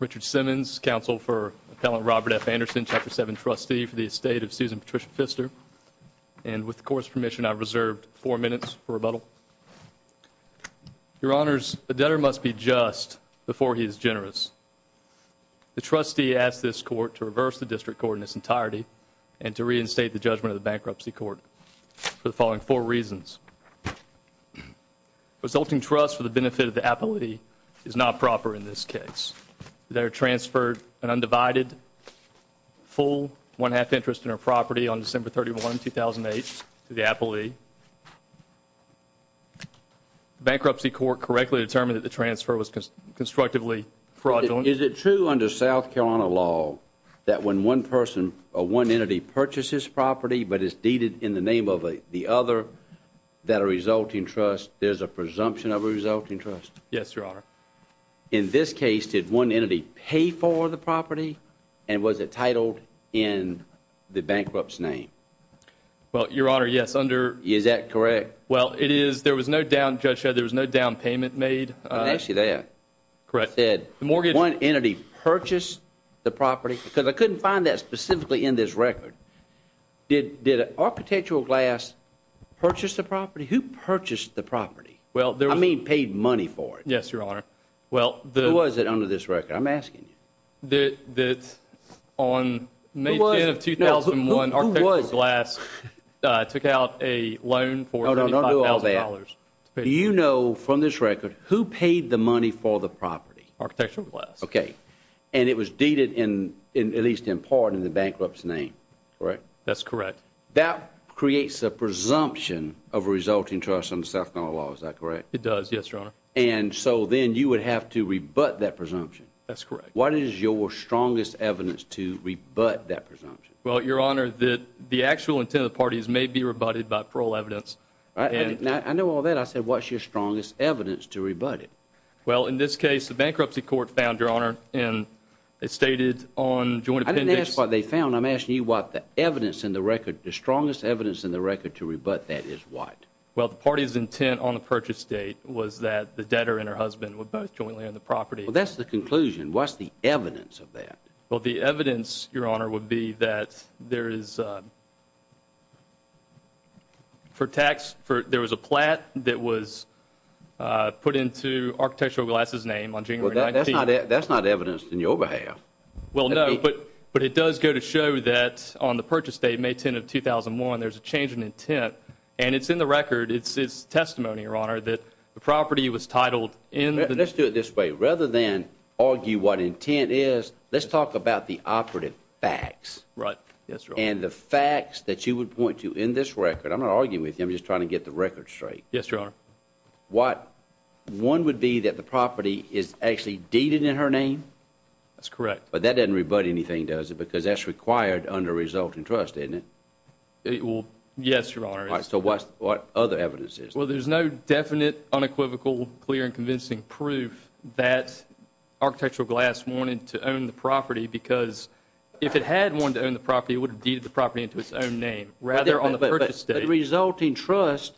Richard Simmons, counsel for Robert F. Anderson, Chapter 7 trustee for the estate of Susan Patricia Pfister, and with the Court's permission, I reserve four minutes for rebuttal. Your Honors, the debtor must be just before he is generous. The trustee asked this Court to reverse the district court in its entirety and to reinstate the judgment of the bankruptcy court for the following four reasons. Resulting trust for the benefit of the appellee is not proper in this case. The debtor transferred an undivided full one-half interest in her property on December 31, 2008 to the appellee. Bankruptcy court correctly determined that the transfer was constructively fraudulent. Is it true under South Carolina law that when one person or one entity purchases property but is deeded in the name of the other, that a resulting trust is a presumption of a resulting trust? Yes, Your Honor. In this case, did one entity pay for the property and was it titled in the bankrupt's name? Well, Your Honor, yes, under… Is that correct? Well, it is. There was no down, Judge Hedges. There was no down payment made. I'll ask you that. Correct. Did one entity purchase the property? Because I couldn't find that specifically in this record. Did our potential class purchase the property? Who purchased the property? I mean paid money for it. Yes, Your Honor. Who was it under this record? I'm asking you. On May 10, 2001, our potential class took out a loan for $5,000. Do you know from this record who paid the money for the property? Our potential class. Okay. And it was deeded at least in part in the bankrupt's name, correct? That's correct. That creates a presumption of a resulting trust under South Carolina law, is that correct? It does, yes, Your Honor. And so then you would have to rebut that presumption. That's correct. What is your strongest evidence to rebut that presumption? Well, Your Honor, the actual intent of the parties may be rebutted by parole evidence. I know all that. I said, what's your strongest evidence to rebut it? Well, in this case, the bankruptcy court found, Your Honor, and it stated on… I didn't ask what they found. I'm asking you what the evidence in the record, the strongest evidence in the record to rebut that is, what? Well, the party's intent on the purchase date was that the debtor and her husband were both jointly on the property. Well, that's the conclusion. What's the evidence of that? Well, the evidence, Your Honor, would be that there was a plat that was put into Architectural Glass's name on January 19th. Well, that's not evidence in your behalf. Well, no, but it does go to show that on the purchase date, May 10th of 2001, there's a change in intent. And it's in the record, it's testimony, Your Honor, that the property was titled in… Let's do it this way. Rather than argue what intent is, let's talk about the operative facts. Right. That's right. And the facts that you would point to in this record – I'm not arguing with you. I'm just trying to get the record straight. Yes, Your Honor. One would be that the property is actually deeded in her name? That's correct. But that doesn't rebut anything, does it? Because that's required under resulting trust, isn't it? Yes, Your Honor. So what other evidence is there? Well, there's no definite, unequivocal, clear, and convincing proof that Architectural Glass wanted to own the property. Because if it had wanted to own the property, it would have deeded the property into its own name rather on the purchase date. The resulting trust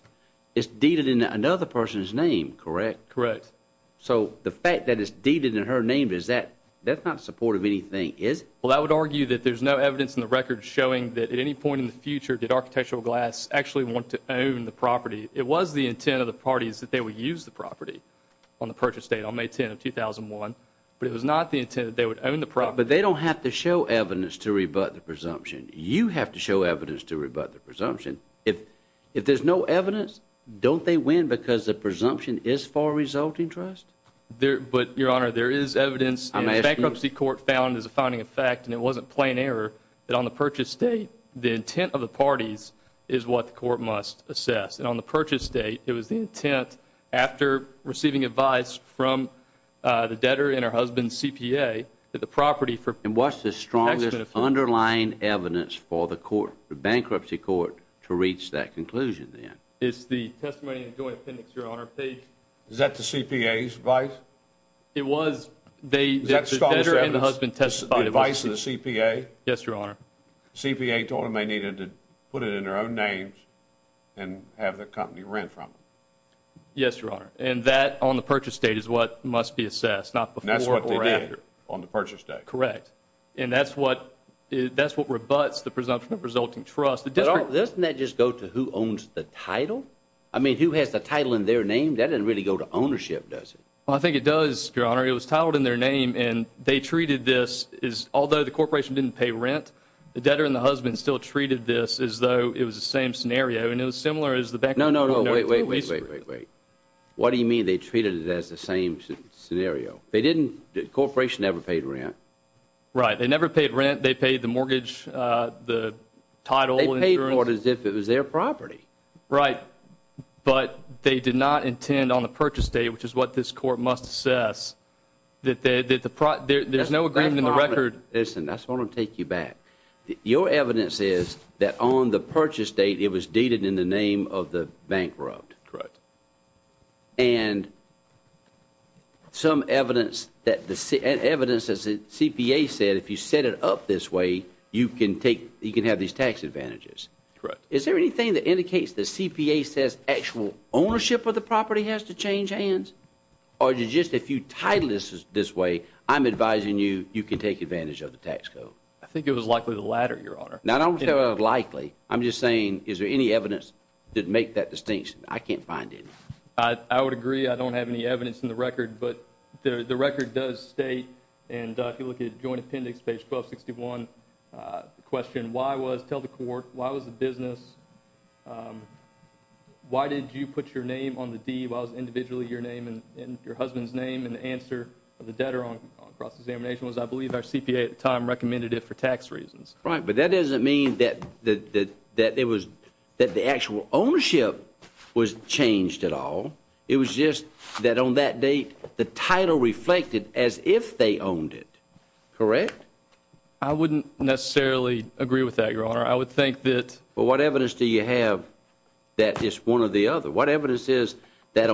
is deeded in another person's name, correct? Correct. So the fact that it's deeded in her name, that's not supportive of anything, is it? Well, I would argue that there's no evidence in the record showing that at any point in the future did Architectural Glass actually want to own the property. It was the intent of the parties that they would use the property on the purchase date on May 10, 2001. But it was not the intent that they would own the property. But they don't have to show evidence to rebut the presumption. You have to show evidence to rebut the presumption. If there's no evidence, don't they win because the presumption is for a resulting trust? But, Your Honor, there is evidence. The bankruptcy court found as a finding of fact, and it wasn't plain error, that on the purchase date, the intent of the parties is what the court must assess. And on the purchase date, it was the intent, after receiving advice from the debtor and her husband's CPA, that the property for... And what's the strongest underlying evidence for the bankruptcy court to reach that conclusion then? It's the testimony and joint appendix, Your Honor. Is that the CPA's advice? It was. The debtor and the husband testified... The advice of the CPA? Yes, Your Honor. The CPA told them they needed to put it in their own names and have the company rent from them. Yes, Your Honor. And that on the purchase date is what must be assessed, not before or after. That's what they did on the purchase date. Correct. And that's what rebuts the presumption of resulting trust. Doesn't that just go to who owns the title? I mean, who has the title in their name? That doesn't really go to ownership, does it? Well, I think it does, Your Honor. It was titled in their name. And they treated this as... Although the corporation didn't pay rent, the debtor and the husband still treated this as though it was the same scenario. And it was similar as the bankruptcy... No, no, no. Wait, wait, wait, wait, wait. What do you mean they treated it as the same scenario? They didn't... The corporation never paid rent. Right. They never paid rent. They paid the mortgage, the title... They paid for it as if it was their property. Right. But they did not intend on the purchase date, which is what this court must assess, that there's no agreement in the record... Listen, I just want to take you back. Your evidence is that on the purchase date, it was dated in the name of the bankrupt. Correct. And some evidence that the... Evidence that the CPA said if you set it up this way, you can have these tax advantages. Correct. Is there anything that indicates the CPA says actual ownership of the property has to change hands? Or just if you title this this way, I'm advising you, you can take advantage of the tax code. I think it was likely the latter, Your Honor. Now, I don't say likely. I'm just saying, is there any evidence to make that distinction? I can't find any. I don't have any evidence in the record. But the record does state, and if you look at Joint Appendix, page 1261, the question, why was... Tell the court, why was the business... Why did you put your name on the deed while it was individually your name and your husband's name? And the answer of the debtor on cross-examination was, I believe our CPA at the time recommended it for tax reasons. Right, but that doesn't mean that it was... That the actual ownership was changed at all. It was just that on that date, the title reflected as if they owned it. Correct? I wouldn't necessarily agree with that, Your Honor. I would think that... But what evidence do you have that it's one or the other? What evidence is that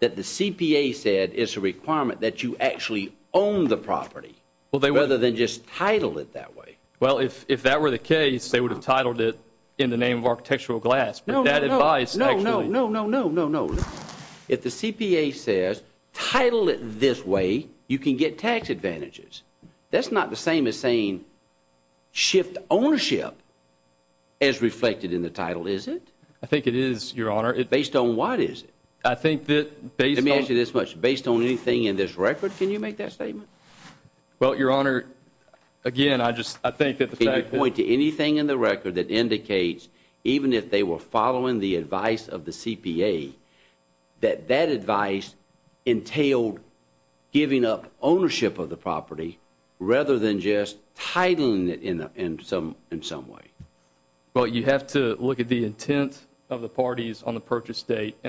the CPA said it's a requirement that you actually own the property rather than just title it that way? Well, if that were the case, they would have titled it in the name of architectural glass. No, no, no, no, no, no, no, no, no. If the CPA says, title it this way, you can get tax advantages. That's not the same as saying shift ownership as reflected in the title, is it? I think it is, Your Honor. Based on what is it? I think that based on... Let me ask you this much. Based on anything in this record, can you make that statement? Well, Your Honor, again, I just... Can you point to anything in the record that indicates, even if they were following the advice of the CPA, that that advice entailed giving up ownership of the property rather than just titling it in some way? Well, you have to look at the intent of the parties on the purchase date. I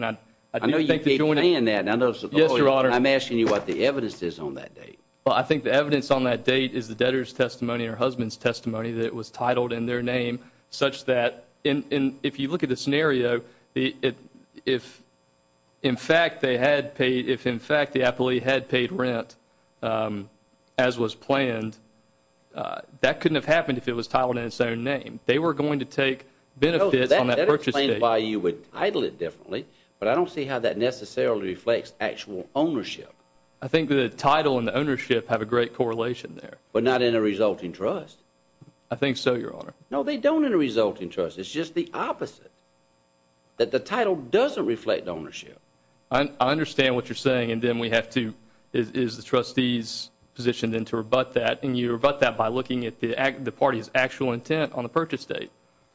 know you keep saying that. I'm asking you what the evidence is on that date. Well, I think the evidence on that date is the debtor's testimony or husband's testimony that it was titled in their name, such that if you look at the scenario, if, in fact, they had paid... If, in fact, the appellee had paid rent as was planned, that couldn't have happened if it was titled in its own name. They were going to take benefit on that purchase date. That explains why you would title it differently, but I don't see how that necessarily reflects actual ownership. I think the title and the ownership have a great correlation there. But not in a resulting trust. I think so, Your Honor. No, they don't in a resulting trust. It's just the opposite, that the title doesn't reflect ownership. I understand what you're saying, and then we have to... It is the trustee's position then to rebut that, and you rebut that by looking at the party's actual intent on the purchase date.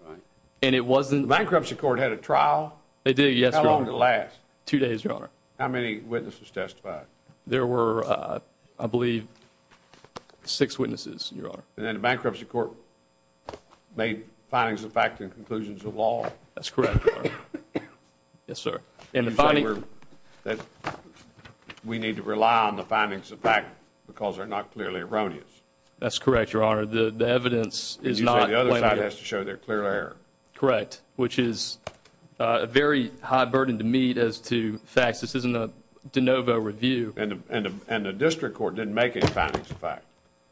Right. And it wasn't... The bankruptcy court had a trial? It did, yes, Your Honor. How long did it last? Two days, Your Honor. How many witnesses testified? There were, I believe, six witnesses, Your Honor. And then the bankruptcy court made findings of fact and conclusions of law? That's correct, Your Honor. Yes, sir. We need to rely on the findings of fact because they're not clearly erroneous. That's correct, Your Honor. The evidence is not... The other side has to show they're clear of error. Correct, which is a very high burden to meet as to facts. This isn't a de novo review. And the district court didn't make any findings of fact.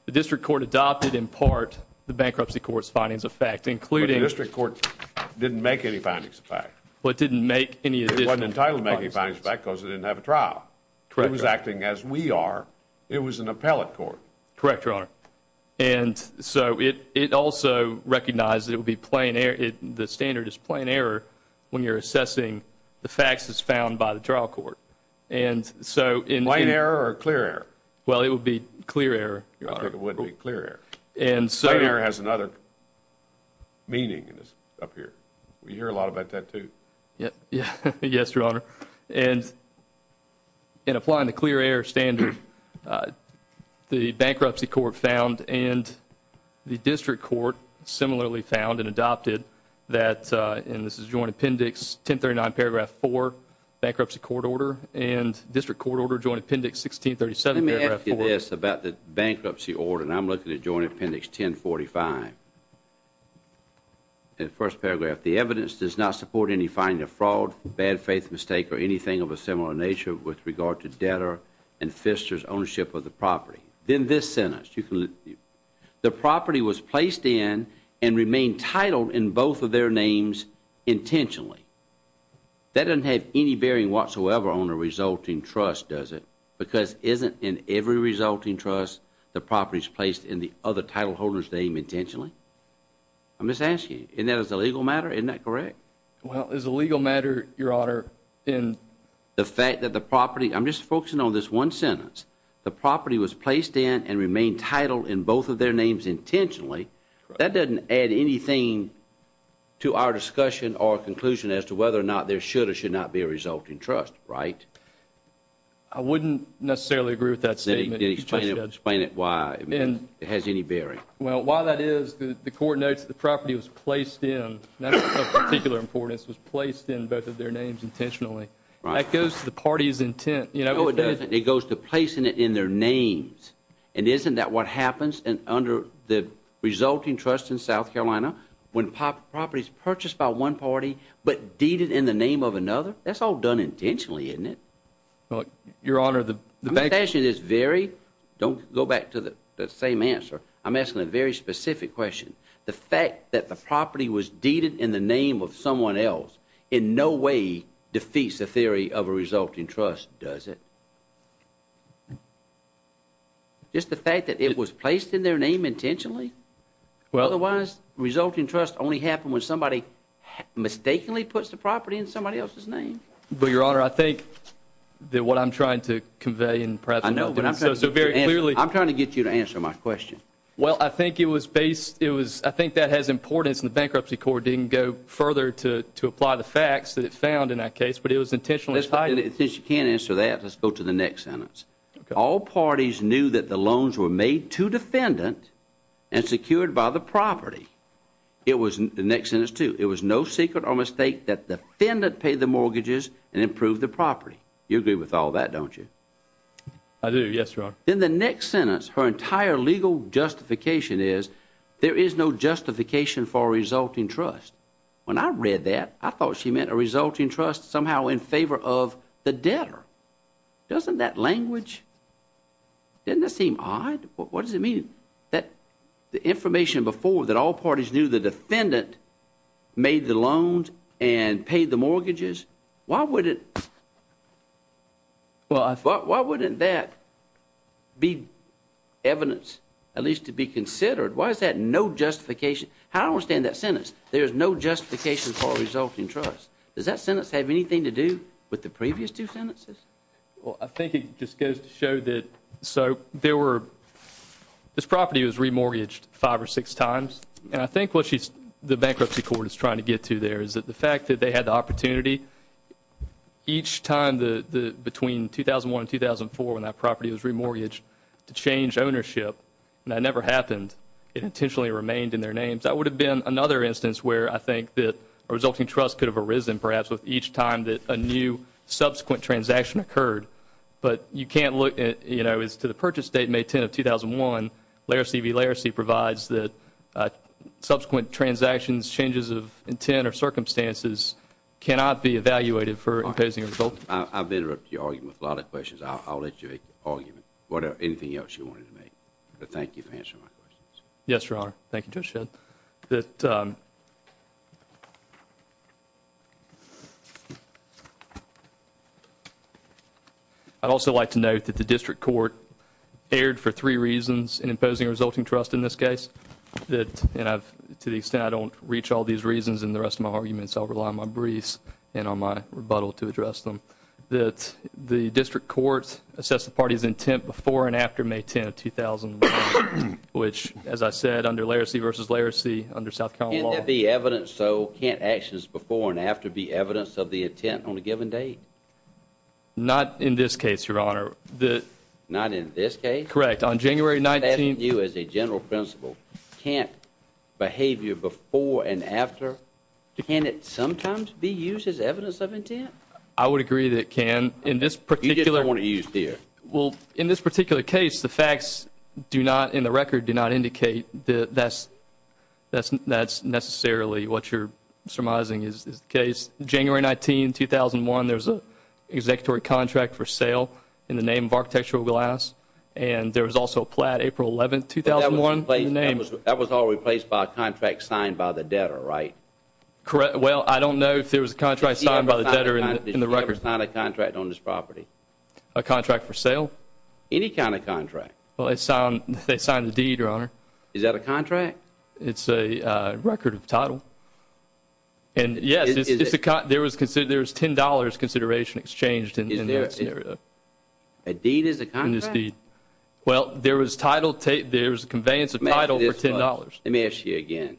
The district court adopted, in part, the bankruptcy court's findings of fact, including... But the district court didn't make any findings of fact. Well, it didn't make any... It wasn't entitled to make any findings of fact because it didn't have a trial. Correct, Your Honor. It was acting as we are. It was an appellate court. Correct, Your Honor. And so it also recognized it would be plain error. The standard is plain error when you're assessing the facts as found by the trial court. And so... Plain error or clear error? Well, it would be clear error, Your Honor. It would be clear error. And so... Clear error has another meaning up here. We hear a lot about that, too. Yes, Your Honor. And in applying the clear error standard, the bankruptcy court found and the district court similarly found and adopted that... And this is Joint Appendix 1039, Paragraph 4, Bankruptcy Court Order and District Court Order, Joint Appendix 1637, Paragraph 4. Let me ask you this about the bankruptcy order. And I'm looking at Joint Appendix 1045. In the first paragraph, the evidence does not support any finding of fraud, bad faith mistake, or anything of a similar nature with regard to debtor and fisher's ownership of the property. In this sentence, the property was placed in and remained titled in both of their names intentionally. That doesn't have any bearing whatsoever on the resulting trust, does it? Because isn't in every resulting trust the property is placed in the other title holder's name intentionally? I'm just asking you. Isn't that a legal matter? Isn't that correct? Well, as a legal matter, Your Honor, in... The fact that the property... I'm just focusing on this one sentence. The property was placed in and remained titled in both of their names intentionally. That doesn't add anything to our discussion or conclusion as to whether or not there should or should not be a resulting trust, right? I wouldn't necessarily agree with that statement. Explain it. Explain it. Why? It has any bearing. Well, while that is, the court notes the property was placed in. That's of particular importance. It was placed in both of their names intentionally. That goes to the party's intent. No, it doesn't. It goes to placing it in their names. And isn't that what happens under the resulting trust in South Carolina when property is purchased by one party but deeded in the name of another? That's all done intentionally, isn't it? Well, Your Honor, the... I'm asking this very... Don't go back to the same answer. I'm asking a very specific question. The fact that the property was deeded in the name of someone else in no way defeats the theory of a resulting trust, does it? Just the fact that it was placed in their name intentionally? Well... Otherwise, resulting trust only happens when somebody mistakenly puts the property in somebody else's name. But, Your Honor, I think that what I'm trying to convey in the present moment... I know, but I'm trying to get you to answer my question. Well, I think it was based... I think that has importance and the Bankruptcy Court didn't go further to apply the facts that it found in that case, but it was intentionally... Since you can't answer that, let's go to the next sentence. All parties knew that the loans were made to defendants and secured by the property. It was... The next sentence, too. It was no secret or mistake that the defendant paid the mortgages and approved the property. You agree with all that, don't you? I do. Yes, Your Honor. In the next sentence, her entire legal justification is there is no justification for a resulting trust. When I read that, I thought she meant a resulting trust somehow in favor of the debtor. Doesn't that language... doesn't that seem odd? What does it mean that the information before that all parties knew the defendant made the loans and paid the mortgages? Why would it... why wouldn't that be evidence at least to be considered? Why is that no justification? I don't understand that sentence. There is no justification for a resulting trust. Does that sentence have anything to do with the previous two sentences? Well, I think it just goes to show that... so there were... this property was remortgaged five or six times. And I think what she's... the bankruptcy court is trying to get to there is that the fact that they had the opportunity each time between 2001 and 2004 when that property was remortgaged to change ownership, and that never happened, it intentionally remained in their names. That would have been another instance where I think that a resulting trust could have arisen perhaps with each time that a new subsequent transaction occurred. But you can't look at... you know, it's to the purchase date, May 10 of 2001. Laracy v. Laracy provides that subsequent transactions, changes of intent or circumstances cannot be evaluated for imposing a result. I've been ripped to your argument with a lot of questions. I'll let you make the argument. Anything else you wanted to make? But thank you for answering my questions. Yes, your honor. Thank you, Judge Shedd. I'd also like to note that the district court erred for three reasons in imposing a resulting trust in this case. And to the extent I don't reach all these reasons in the rest of my arguments, I'll rely on my briefs and on my rebuttal to address them. The district court assessed the party's intent before and after May 10, 2001, which, as I said, under Laracy v. Laracy, under South Carolina law... Can't that be evidence, so can't actions before and after be evidence of the intent on a given date? Not in this case, your honor. Not in this case? Correct. On January 19... I'm not adding you as a general principle. Can't behavior before and after... can it sometimes be used as evidence of intent? I would agree that it can. In this particular... You didn't want to use this. Well, in this particular case, the facts do not, in the record, do not indicate that that's necessarily what you're surmising is the case. January 19, 2001, there was an executory contract for sale in the name of architectural glass. And there was also a plat April 11, 2001... That was all replaced by a contract signed by the debtor, right? Correct. Well, I don't know if there was a contract signed by the debtor in the record. He did not sign a contract on this property. A contract for sale? Any kind of contract. Well, they signed a deed, your honor. Is that a contract? It's a record of title. And, yes, there was $10 consideration exchanged in this area. A deed is a contract? Well, there was a title... there was a conveyance of title for $10. Let me ask you again.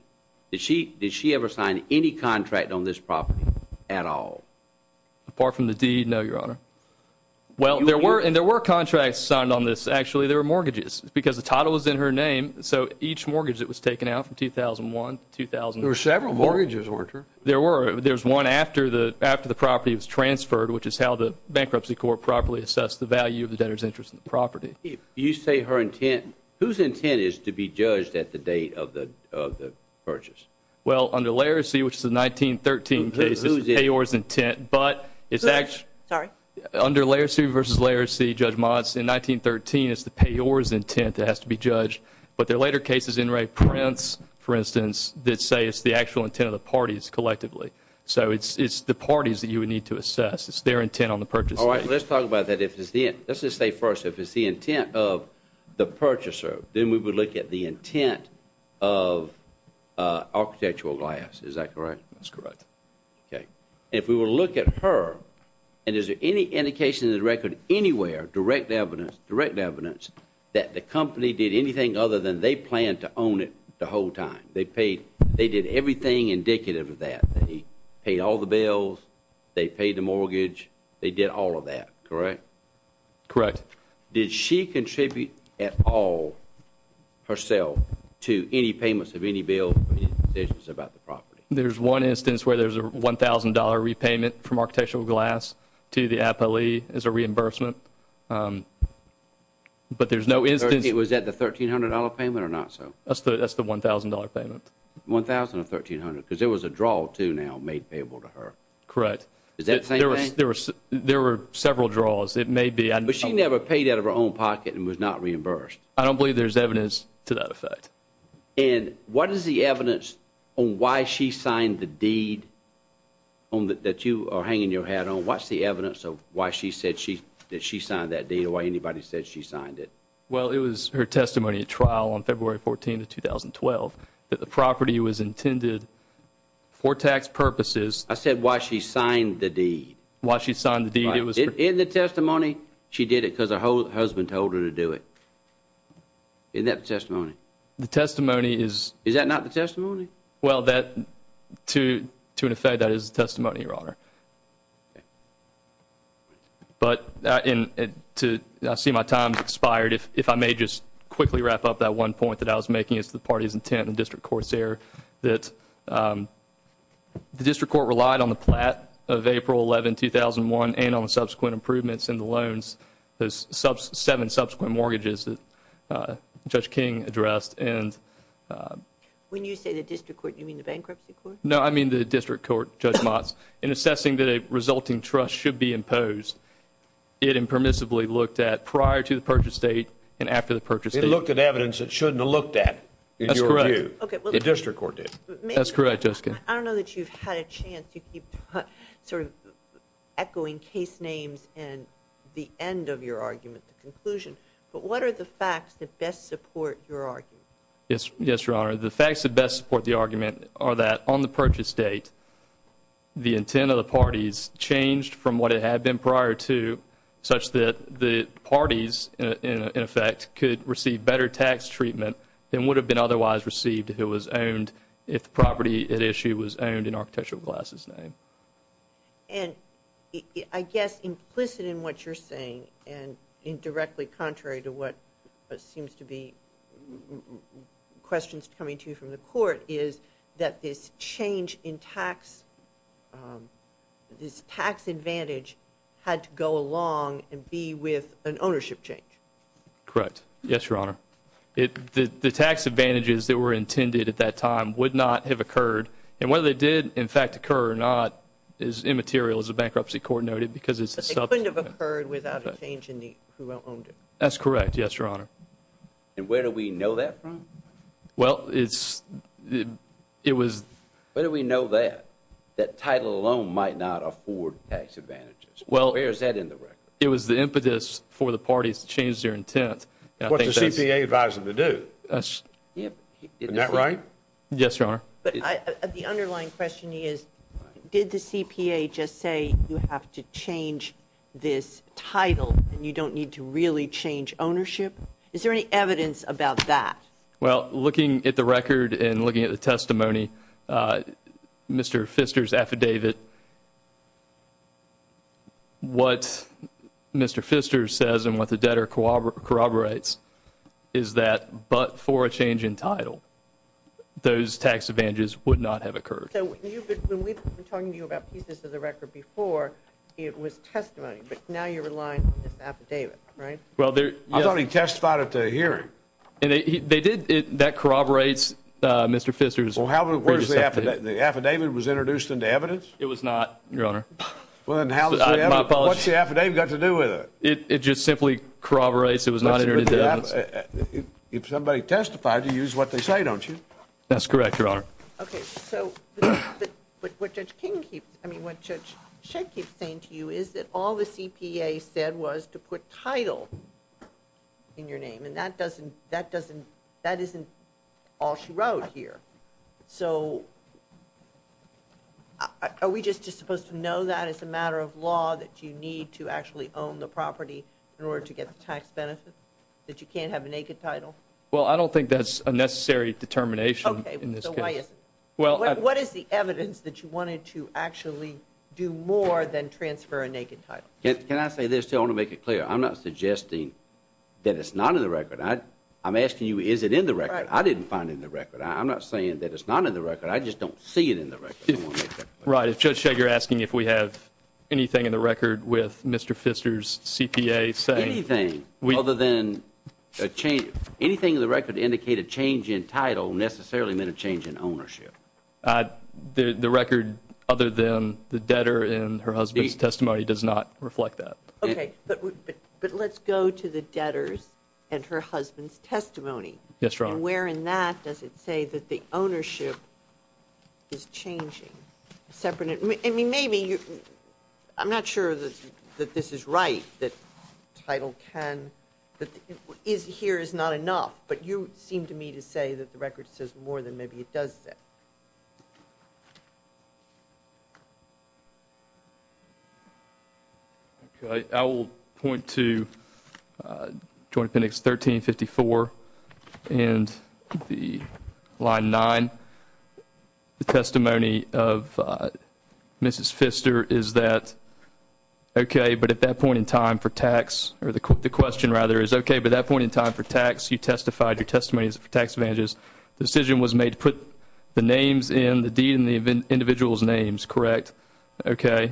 Did she ever sign any contract on this property at all? Apart from the deed, no, your honor. Well, there were contracts signed on this, actually. They were mortgages because the title was in her name. So each mortgage that was taken out from 2001 to 2000... There were several mortgages, weren't there? There were. There was one after the property was transferred, which is how the bankruptcy court properly assessed the value of the debtor's interest in the property. You say her intent. Whose intent is to be judged at the date of the purchase? Well, under Laresy, which is the 1913 case, it's the payor's intent. But it's actually... Sorry. Under Laresy v. Laresy, Judge Motz, in 1913, it's the payor's intent that has to be judged. But there are later cases, in Ray Prince, for instance, that say it's the actual intent of the parties collectively. So it's the parties that you would need to assess. It's their intent on the purchase. All right. Let's talk about that. Let's just say first, if it's the intent of the purchaser, then we would look at the intent of Architectural Glass. Is that correct? That's correct. Okay. If we were to look at her, and is there any indication in the record anywhere, direct evidence, direct evidence, that the company did anything other than they planned to own it the whole time? They paid... They did everything indicative of that. They paid all the bills. They paid the mortgage. They did all of that. Correct? Correct. Did she contribute at all herself to any payments of any bill about the property? There's one instance where there's a $1,000 repayment from Architectural Glass to the appellee as a reimbursement. But there's no instance... Was that the $1,300 payment or not so? That's the $1,000 payment. $1,000 of $1,300 because there was a draw too now made payable to her. Correct. Is that the same thing? There were several draws. It may be. But she never paid out of her own pocket and was not reimbursed. I don't believe there's evidence to that effect. And what is the evidence on why she signed the deed that you are hanging your hat on? What's the evidence of why she said she signed that deed or why anybody said she signed it? Well, it was her testimony at trial on February 14, 2012, that the property was intended for tax purposes. I said why she signed the deed. Why she signed the deed. In the testimony, she did it because her husband told her to do it. Isn't that the testimony? The testimony is... Is that not the testimony? Well, to an effect, that is the testimony, Your Honor. But I see my time has expired. If I may just quickly wrap up that one point that I was making. It's the party's intent and the district court's error. The district court relied on the plat of April 11, 2001 and on subsequent improvements in the loans, the seven subsequent mortgages that Judge King addressed. When you say the district court, you mean the bankruptcy court? No, I mean the district court, Judge Motz. In assessing that a resulting trust should be imposed, it impermissibly looked at prior to the purchase date and after the purchase date. It looked at evidence it shouldn't have looked at. That's correct. The district court did. That's correct, Jessica. I don't know that you've had a chance to keep sort of echoing case names and the end of your argument, the conclusion, but what are the facts that best support your argument? Yes, Your Honor. The facts that best support the argument are that on the purchase date, the intent of the parties changed from what it had been prior to, such that the parties, in effect, could receive better tax treatment than would have been otherwise received if it was owned, if the property at issue was owned in Architectural Glass's name. And I guess implicit in what you're saying and indirectly contrary to what seems to be questions coming to you from the court is that this change in tax, this tax advantage had to go along and be with an ownership change. Correct. Yes, Your Honor. The tax advantages that were intended at that time would not have occurred, and whether they did, in fact, occur or not is immaterial as a bankruptcy court noted because it's a substantive. But they couldn't have occurred without a change in who owned it. That's correct. Yes, Your Honor. And where do we know that from? Well, it was... Where do we know that, that title alone might not afford tax advantages? Where is that in the record? It was the impetus for the parties to change their intent. What's the CPA advising them to do? Isn't that right? Yes, Your Honor. The underlying question is, did the CPA just say you have to change this title and you don't need to really change ownership? Is there any evidence about that? Well, looking at the record and looking at the testimony, Mr. Pfister's affidavit, what Mr. Pfister says and what the debtor corroborates is that but for a change in title, those tax advantages would not have occurred. So when we've been talking to you about pieces of the record before, it was testimony, but now you're relying on this affidavit, right? I thought he testified at the hearing. That corroborates Mr. Pfister's... Well, where's the affidavit? The affidavit was introduced into evidence? It was not, Your Honor. What's the affidavit got to do with it? It just simply corroborates it was not introduced into evidence. If somebody testifies, you use what they say, don't you? That's correct, Your Honor. Okay, so what Judge Shenke is saying to you is that all the CPA said was to put title in your name, and that isn't all she wrote here. So are we just supposed to know that it's a matter of law that you need to actually own the property in order to get the tax benefit, that you can't have a naked title? Well, I don't think that's a necessary determination in this case. What is the evidence that you wanted to actually do more than transfer a naked title? Can I say this? I want to make it clear. I'm not suggesting that it's not in the record. I'm asking you, is it in the record? I didn't find it in the record. I'm not saying that it's not in the record. I just don't see it in the record. Right, Judge Shenke, you're asking if we have anything in the record with Mr. Pfister's CPA saying... Anything other than a change. Anything in the record to indicate a change in title necessarily meant a change in ownership. The record other than the debtor and her husband's testimony does not reflect that. Okay, but let's go to the debtor's and her husband's testimony. Yes, Your Honor. And where in that does it say that the ownership is changing? I mean, maybe you... I'm not sure that this is right, that Title X is here is not enough, but you seem to me to say that the record says more than maybe it does say. Okay, I will point to Joint Appendix 1354 and the line 9. The testimony of Mrs. Pfister is that, okay, but at that point in time for tax, or the question rather is, okay, but at that point in time for tax, you testified your testimony is for tax advantages. The decision was made to put the names in, the deed and the individual's names, correct? Okay,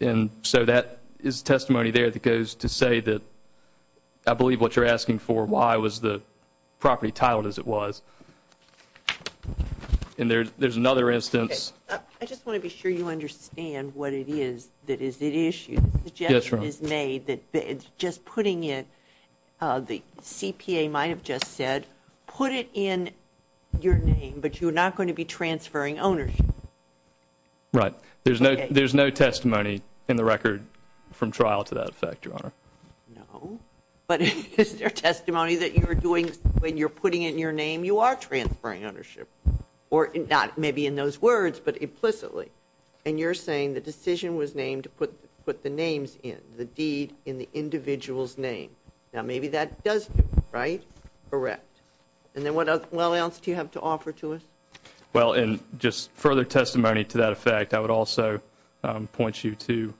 and so that is testimony there that goes to say that I believe what you're asking for, why was the property titled as it was. And there's another instance. I just want to be sure you understand what it is that is at issue. Yes, Your Honor. The suggestion is made that it's just putting it... CPA might have just said put it in your name, but you're not going to be transferring ownership. Right. There's no testimony in the record from trial to that effect, Your Honor. No, but is there testimony that you're doing when you're putting in your name, you are transferring ownership, or not maybe in those words, but implicitly. And you're saying the decision was named to put the names in, the deed and the individual's name. Now maybe that doesn't, right? Correct. And then what else do you have to offer to us? Well, in just further testimony to that effect, I would also point you to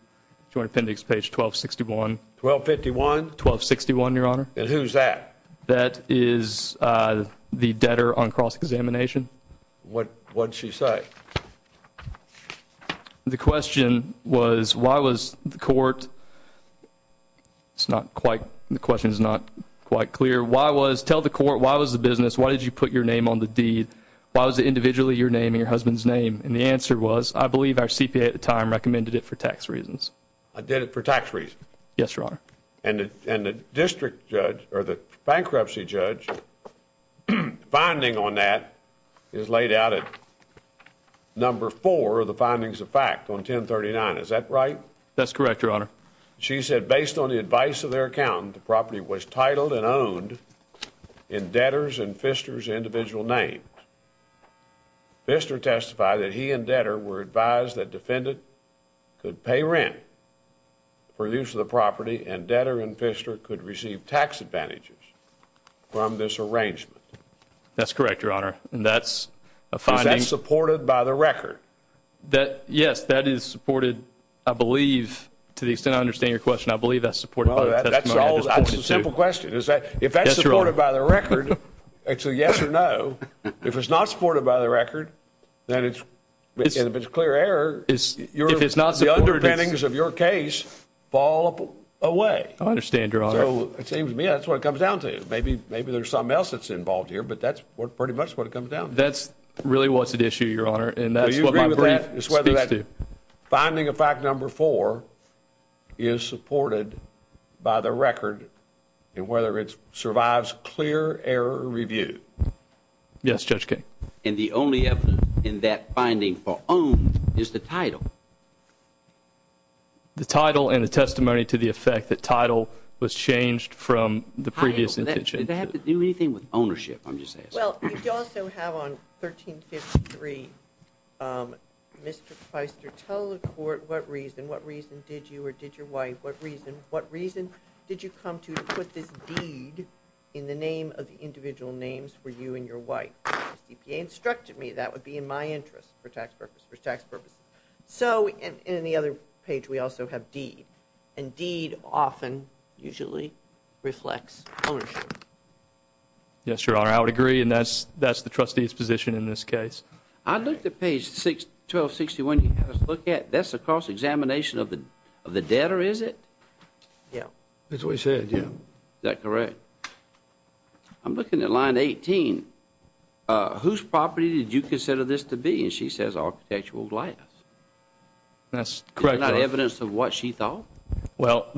Joint Appendix page 1261. 1251? 1261, Your Honor. And who's that? That is the debtor on cross-examination. What did she say? The question was why was the court, it's not quite, the question is not quite clear. Why was, tell the court why was the business, why did you put your name on the deed, why was it individually your name and your husband's name? And the answer was I believe our CPA at the time recommended it for tax reasons. Did it for tax reasons? Yes, Your Honor. And the district judge, or the bankruptcy judge, the finding on that is laid out in number four of the findings of fact on 1039. Is that right? That's correct, Your Honor. She said based on the advice of their accountant, the property was titled and owned in debtor's and Fister's individual names. Fister testified that he and debtor were advised that defendant could pay rent for use of the property and debtor and Fister could receive tax advantages from this arrangement. That's correct, Your Honor. And that's a finding. Is that supported by the record? Yes, that is supported, I believe, to the extent I understand your question, I believe that's supported by the record. That's a simple question. If that's supported by the record, actually yes or no, if it's not supported by the record, then if it's a clear error, the underpinnings of your case fall away. I understand, Your Honor. It seems to me that's what it comes down to. Maybe there's something else that's involved here, but that's pretty much what it comes down to. That's really what's at issue, Your Honor. Do you agree with that? Finding of fact number four is supported by the record and whether it survives clear error review. Yes, Judge King. And the only evidence in that finding for owned is the title. The title and the testimony to the effect that title was changed from the previous intention. Does that have to do anything with ownership, I'm just saying? Well, you also have on 1353, Mr. Feister, tell the court what reason, what reason did you or did your wife, what reason, what reason did you come to put this deed in the name of individual names for you and your wife? If you instructed me, that would be in my interest for tax purposes. So in the other page, we also have deed, and deed often usually reflects ownership. Yes, Your Honor, I would agree, and that's the trustee's position in this case. I looked at page 1261. That's a cross-examination of the debtor, is it? Yes. That's what he said, yes. Is that correct? I'm looking at line 18. Whose property did you consider this to be? And she says architectural glass. That's correct, Your Honor. Is that evidence of what she thought? Well,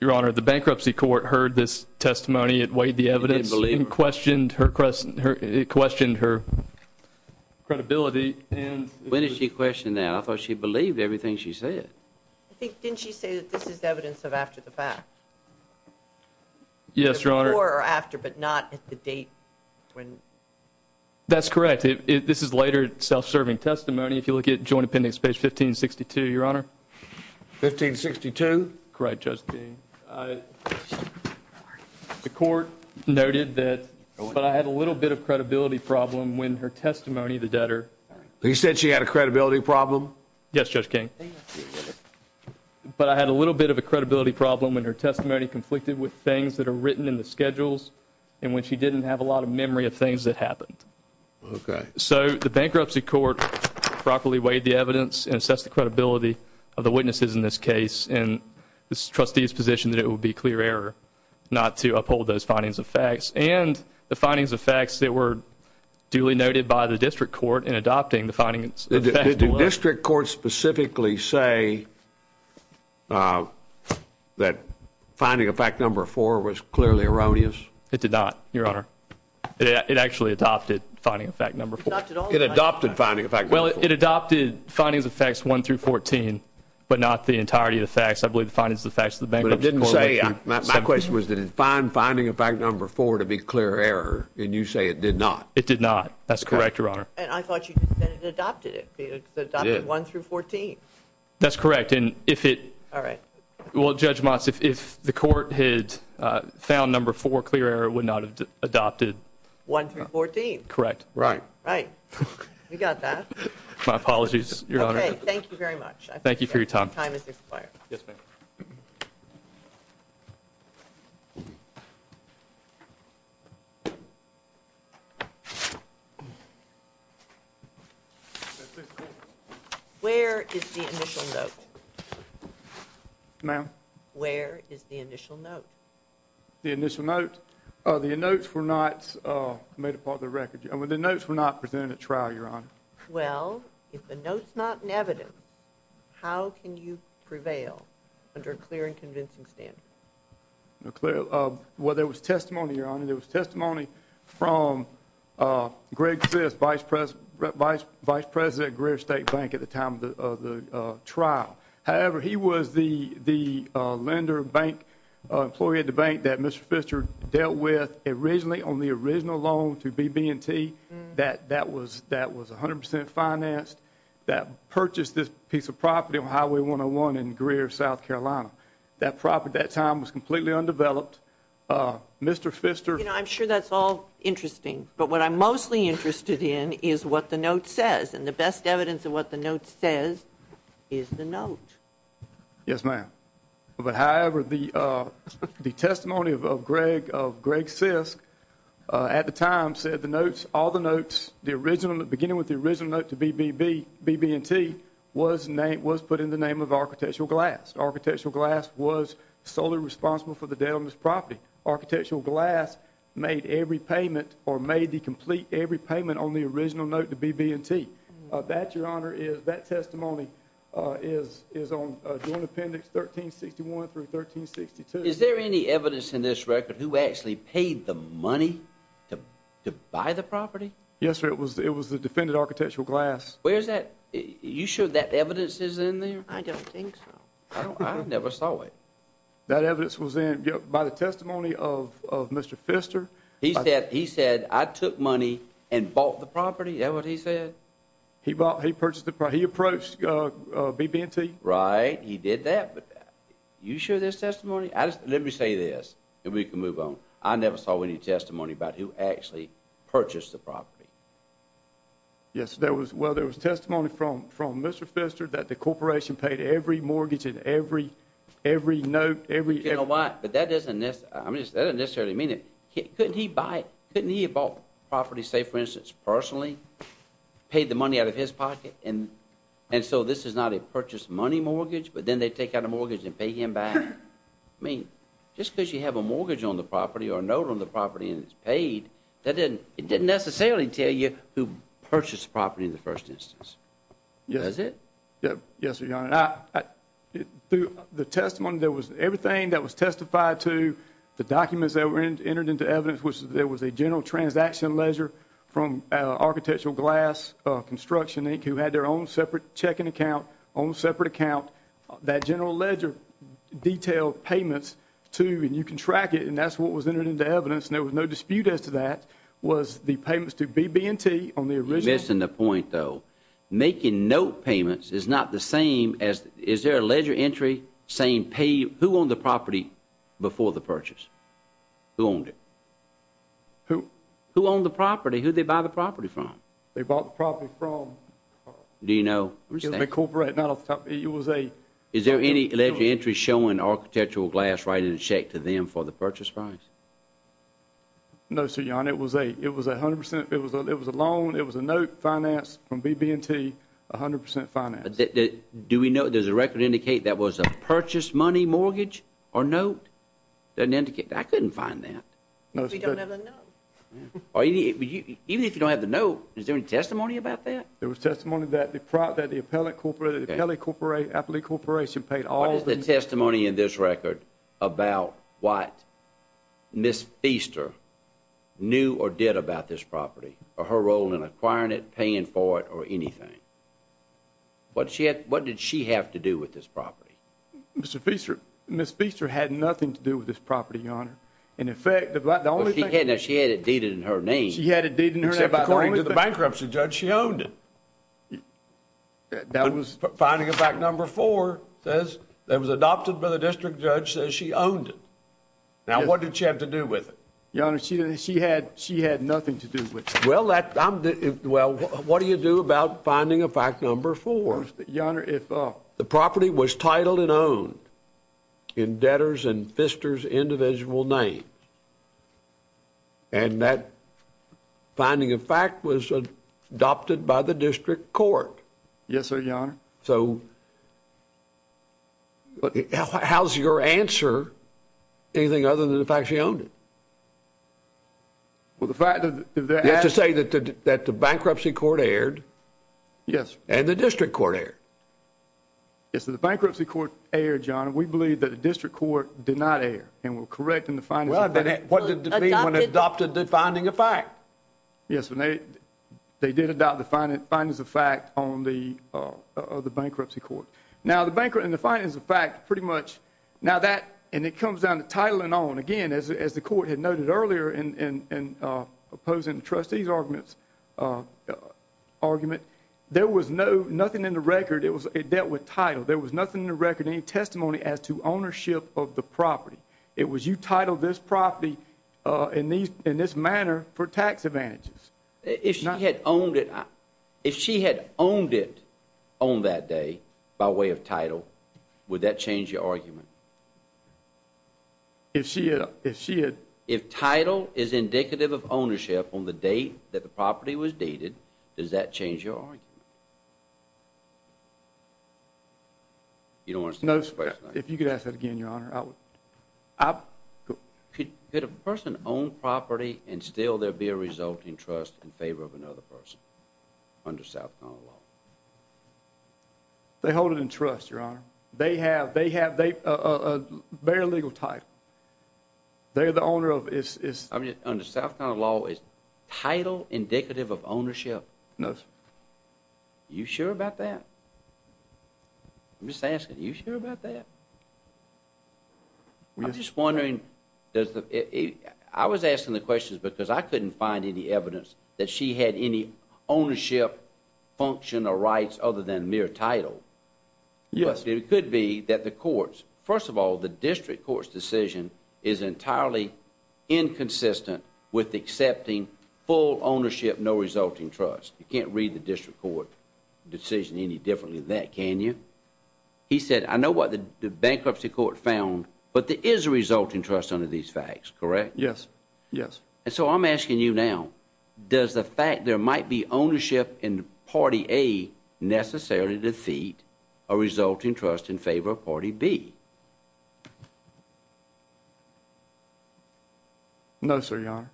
Your Honor, the bankruptcy court heard this testimony. It weighed the evidence and questioned her credibility. When did she question that? I thought she believed everything she said. Didn't she say this is evidence of after the fact? Yes, Your Honor. Before or after, but not at the date. That's correct. This is later self-serving testimony. If you look at Joint Appendix page 1562, Your Honor. 1562? Correct, Judge King. The court noted that I had a little bit of credibility problem when her testimony of the debtor. You said she had a credibility problem? Yes, Judge King. But I had a little bit of a credibility problem when her testimony conflicted with things that are written in the schedules and when she didn't have a lot of memory of things that happened. Okay. So the bankruptcy court properly weighed the evidence and assessed the credibility of the witnesses in this case and the trustee's position that it would be clear error not to uphold those findings of facts and the findings of facts that were duly noted by the district court in adopting the findings of the facts. Did the district court specifically say that finding of fact number 4 was clearly erroneous? It did not, Your Honor. It actually adopted finding of fact number 4. It adopted finding of fact number 4. Well, it adopted findings of facts 1 through 14, but not the entirety of the facts. I believe the findings of the facts of the bankruptcy court. But it didn't say. My question was, did it find finding of fact number 4 to be clear error? And you say it did not. It did not. That's correct, Your Honor. And I thought you said it adopted it. It adopted 1 through 14. That's correct. All right. Well, Judge Moss, if the court had found number 4 clear error, it would not have adopted 1 through 14. Correct. Right. Right. You got that. My apologies, Your Honor. Okay. Thank you very much. Thank you for your time. Your time has expired. Yes, ma'am. Where is the initial note? Ma'am? Where is the initial note? The initial note? The notes were not made up of the record. The notes were not presented at trial, Your Honor. Well, if the note's not in evidence, how can you prevail under a clear and convincing standard? Well, there was testimony, Your Honor. There was testimony from Greg Fisk, Vice President at Greer State Bank at the time of the trial. However, he was the lender bank, employee at the bank that Mr. Fisker dealt with originally on the original loan through BB&T that was 100% financed, that purchased this piece of property on Highway 101 in Greer, South Carolina. That property at that time was completely undeveloped. Mr. Fisker. You know, I'm sure that's all interesting. But what I'm mostly interested in is what the note says. And the best evidence of what the note says is the note. Yes, ma'am. However, the testimony of Greg Fisk at the time said the notes, all the notes, the original, beginning with the original note to BB&T was put in the name of Architectural Glass. Architectural Glass was solely responsible for the day on this property. Architectural Glass made every payment or made the complete every payment on the original note to BB&T. That, Your Honor, is that testimony is on the appendix 1361 through 1362. Is there any evidence in this record who actually paid the money to buy the property? Yes, sir. It was the defendant, Architectural Glass. Where's that? You sure that evidence is in there? I don't think so. I never saw it. That evidence was in by the testimony of Mr. Pfister. He said, I took money and bought the property. Is that what he said? He purchased the property. He approached BB&T. Right. He did that. You sure that's testimony? Let me say this and we can move on. I never saw any testimony about who actually purchased the property. Yes. Well, it was testimony from Mr. Pfister that the corporation paid every mortgage and every note. You know what? That doesn't necessarily mean it. Couldn't he buy it? Couldn't he have bought the property, say, for instance, personally, paid the money out of his pocket and so this is not a purchased money mortgage, but then they take out a mortgage and pay him back? I mean, just because you have a mortgage on the property or a note on the property and it's paid, that didn't necessarily tell you who purchased the property in the first instance. Yes. Yes, Your Honor. Through the testimony, there was everything that was testified to, the documents that were entered into evidence, which there was a general transaction ledger from Architectural Glass Construction, Inc., who had their own separate checking account, own separate account. That general ledger detailed payments to, and you can track it, and that's what was entered into evidence, and there was no dispute as to that, was the payments to BB&T on the original. You're missing the point, though. Making note payments is not the same as, is there a ledger entry saying, who owned the property before the purchase? Who owned it? Who? Who owned the property? Who did they buy the property from? They bought the property from. Do you know? It was a corporate, not a, it was a. Is there any ledger entry showing Architectural Glass writing a check to them for the purchase price? No, sir, John. It was a, it was 100%. It was a loan. It was a note financed from BB&T, 100% finance. Do we know, does the record indicate that was a purchase money mortgage or note? Doesn't indicate. I couldn't find that. We don't have a note. Even if you don't have the note, is there any testimony about that? There was testimony that the appellate corporate, the telecorporate, affiliate corporation paid all the. What is the testimony in this record about what? Miss Easter knew or did about this property or her role in acquiring it, paying for it, or anything. What she had, what did she have to do with this property? Mr. Feaster, Mr. Feaster had nothing to do with this property. Your Honor. In effect, the only thing that she had a deed in her name, he had a deed in the bankruptcy judge. She owned it. That was finding it back. Number four says that was adopted by the district judge. She owned it. Now, what did she have to do with it? Your Honor, she, she had, she had nothing to do with it. Well, that I'm, well, what do you do about finding a fact number four? Your Honor, if the property was titled and owned in debtors and sisters, individual name. And that finding, in fact, was adopted by the district court. Yes, sir. Your Honor. So. How's your answer? Anything other than the fact she owned it? Well, the fact that. You have to say that the bankruptcy court erred. Yes. And the district court erred. Yes, the bankruptcy court erred, Your Honor. We believe that the district court did not erred. And we're correct in the finding. Well, then what did it mean when adopted the finding of fact? Yes, and they, they did adopt the findings of fact on the bankruptcy court. Now, the bankruptcy and the findings of fact, pretty much, now that, and it comes down to title and all. And again, as the court had noted earlier in opposing the trustee's argument, argument, there was no, nothing in the record. It was, it dealt with title. There was nothing in the record, any testimony as to ownership of the property. It was you titled this property in these, in this manner for tax advantages. If she had owned it, if she had owned it on that day, by way of title, would that change your argument? If she had, if she had, If title is indicative of ownership on the day that the property was dated, does that change your argument? You don't want to say that first, If you could ask that again, Your Honor, I would, I, Could a person own property and still there be a resulting trust in favor of another person under South Carolina law? They hold it in trust, Your Honor. They have, they have, they, a very legal title. They're the owner of, it's, it's, Under South Carolina law, is title indicative of ownership? No, sir. Are you sure about that? I'm just asking, are you sure about that? I'm just wondering, does the, I was asking the question because I couldn't find any evidence that she had any ownership function or rights other than mere title. Yes. It could be that the courts, first of all, the district court's decision is entirely inconsistent with accepting full ownership, no resulting trust. You can't read the district court decision any differently than that, can you? He said, I know what the bankruptcy court found, but there is a resulting trust under these facts, correct? Yes. Yes. And so I'm asking you now, does the fact there might be ownership in party A necessarily defeat a resulting trust in favor of party B? No, sir, Your Honor.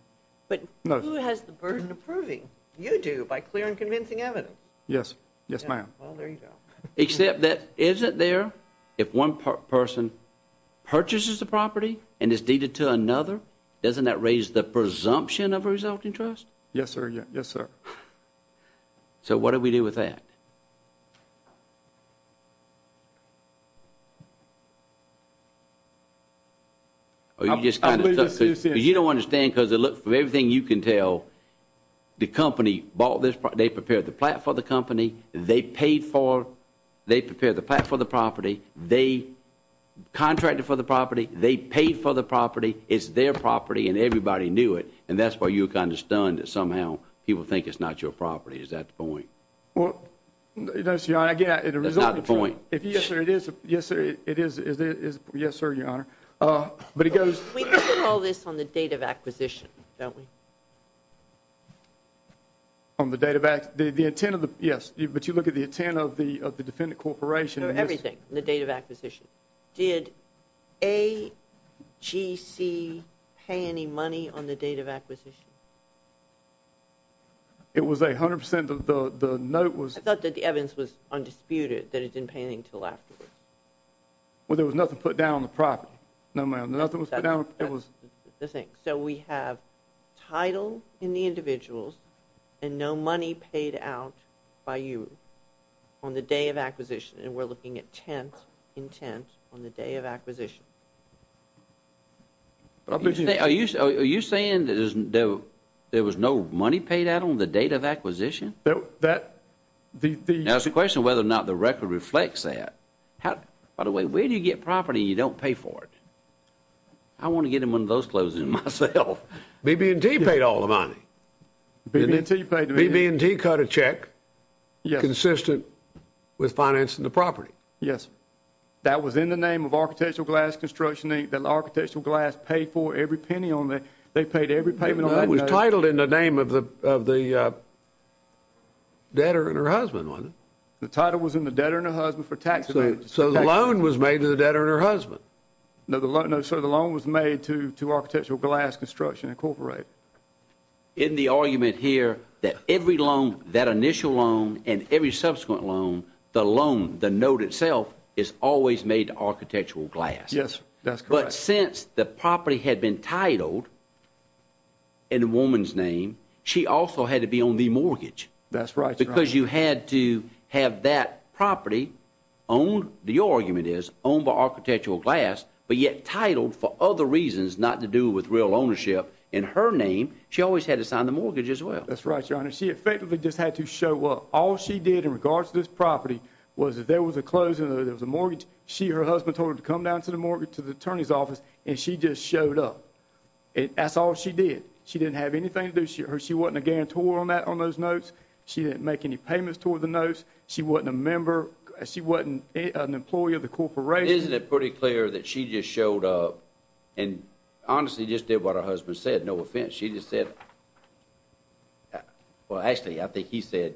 But who has the burden of proving? You do, by clear and convincing evidence. Yes. Yes, ma'am. Well, there you go. Except that, isn't there, if one person purchases the property and is deeded to another, doesn't that raise the presumption of a resulting trust? Yes, sir. Yes, sir. So what do we do with that? You don't understand because it looks, from everything you can tell, the company bought this, they prepared the plat for the company, they paid for, they prepared the plat for the property, they contracted for the property, they paid for the property, it's their property and everybody knew it, and that's why you have to understand that somehow people think it's not your property. Is that the point? Well, that's the idea. That's not the point. Yes, sir, it is. Yes, sir, Your Honor. We can call this on the date of acquisition, don't we? On the date of, the intent of the, yes, but you look at the intent of the defendant corporation. Everything, the date of acquisition. Did AGC pay any money on the date of acquisition? It was a hundred percent, but the note was, I thought that the evidence was undisputed, that it didn't pay anything until afterwards. Well, there was nothing put down on the property. No, ma'am, nothing was put down, it was, the thing, so we have title in the individuals and no money paid out by you on the day of acquisition, and we're looking at 10th, intent on the day of acquisition. Are you saying that there was no money paid out on the date of acquisition? Now, it's a question of whether or not the record reflects that. By the way, where do you get property and you don't pay for it? I want to get in one of those closings myself. BB&T paid all the money. BB&T cut a check consistent with financing the property. Yes. That was in the name of Architectural Glass Construction, didn't Architectural Glass pay for every penny on that? They paid every penny on that. It was titled in the name of the debtor and her husband, wasn't it? The title was in the debtor and her husband for tax evasion. So, the loan was made to the debtor and her husband. No, sir, the loan was made to Architectural Glass Construction Incorporated. Isn't the argument here that every loan, that initial loan and every subsequent loan, the loan, the note itself, is always made to Architectural Glass? Yes, that's correct. But since the property had been titled in the woman's name, she also had to be on the mortgage. That's right. Because you had to have that property owned, the argument is, owned by Architectural Glass, but yet titled for other reasons not to do with real ownership. In her name, she always had to sign the mortgage as well. That's right, Your Honor. She effectively just had to show up. All she did in regards to this property was if there was a closing or there was a mortgage, she or her husband told her to come down to the mortgage to the attorney's office and she just showed up. That's all she did. She didn't have anything to do. She wasn't a guarantor on that, on those notes. She didn't make any payments toward the notes. She wasn't a member. She wasn't an employee of the corporation. Isn't it pretty clear that she just showed up and honestly just did what her husband said? No offense. She just said, well, actually, I think he said,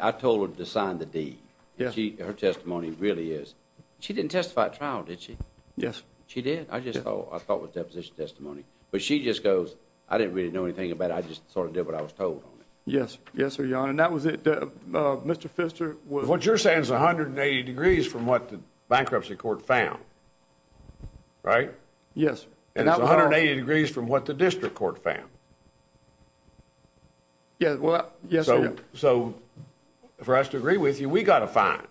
I told her to sign the deed. Her testimony really is. She didn't testify at trial, did she? Yes. She did? I just thought it was deposition testimony. She just goes, I didn't really know anything about it. I just sort of did what I was told. Yes. Yes, Your Honor. That was it. Mr. Pfister. What you're saying is 180 degrees from what the bankruptcy court found. Right? Yes. It's 180 degrees from what the district court found. Yes. For us to agree with you, we got a fine.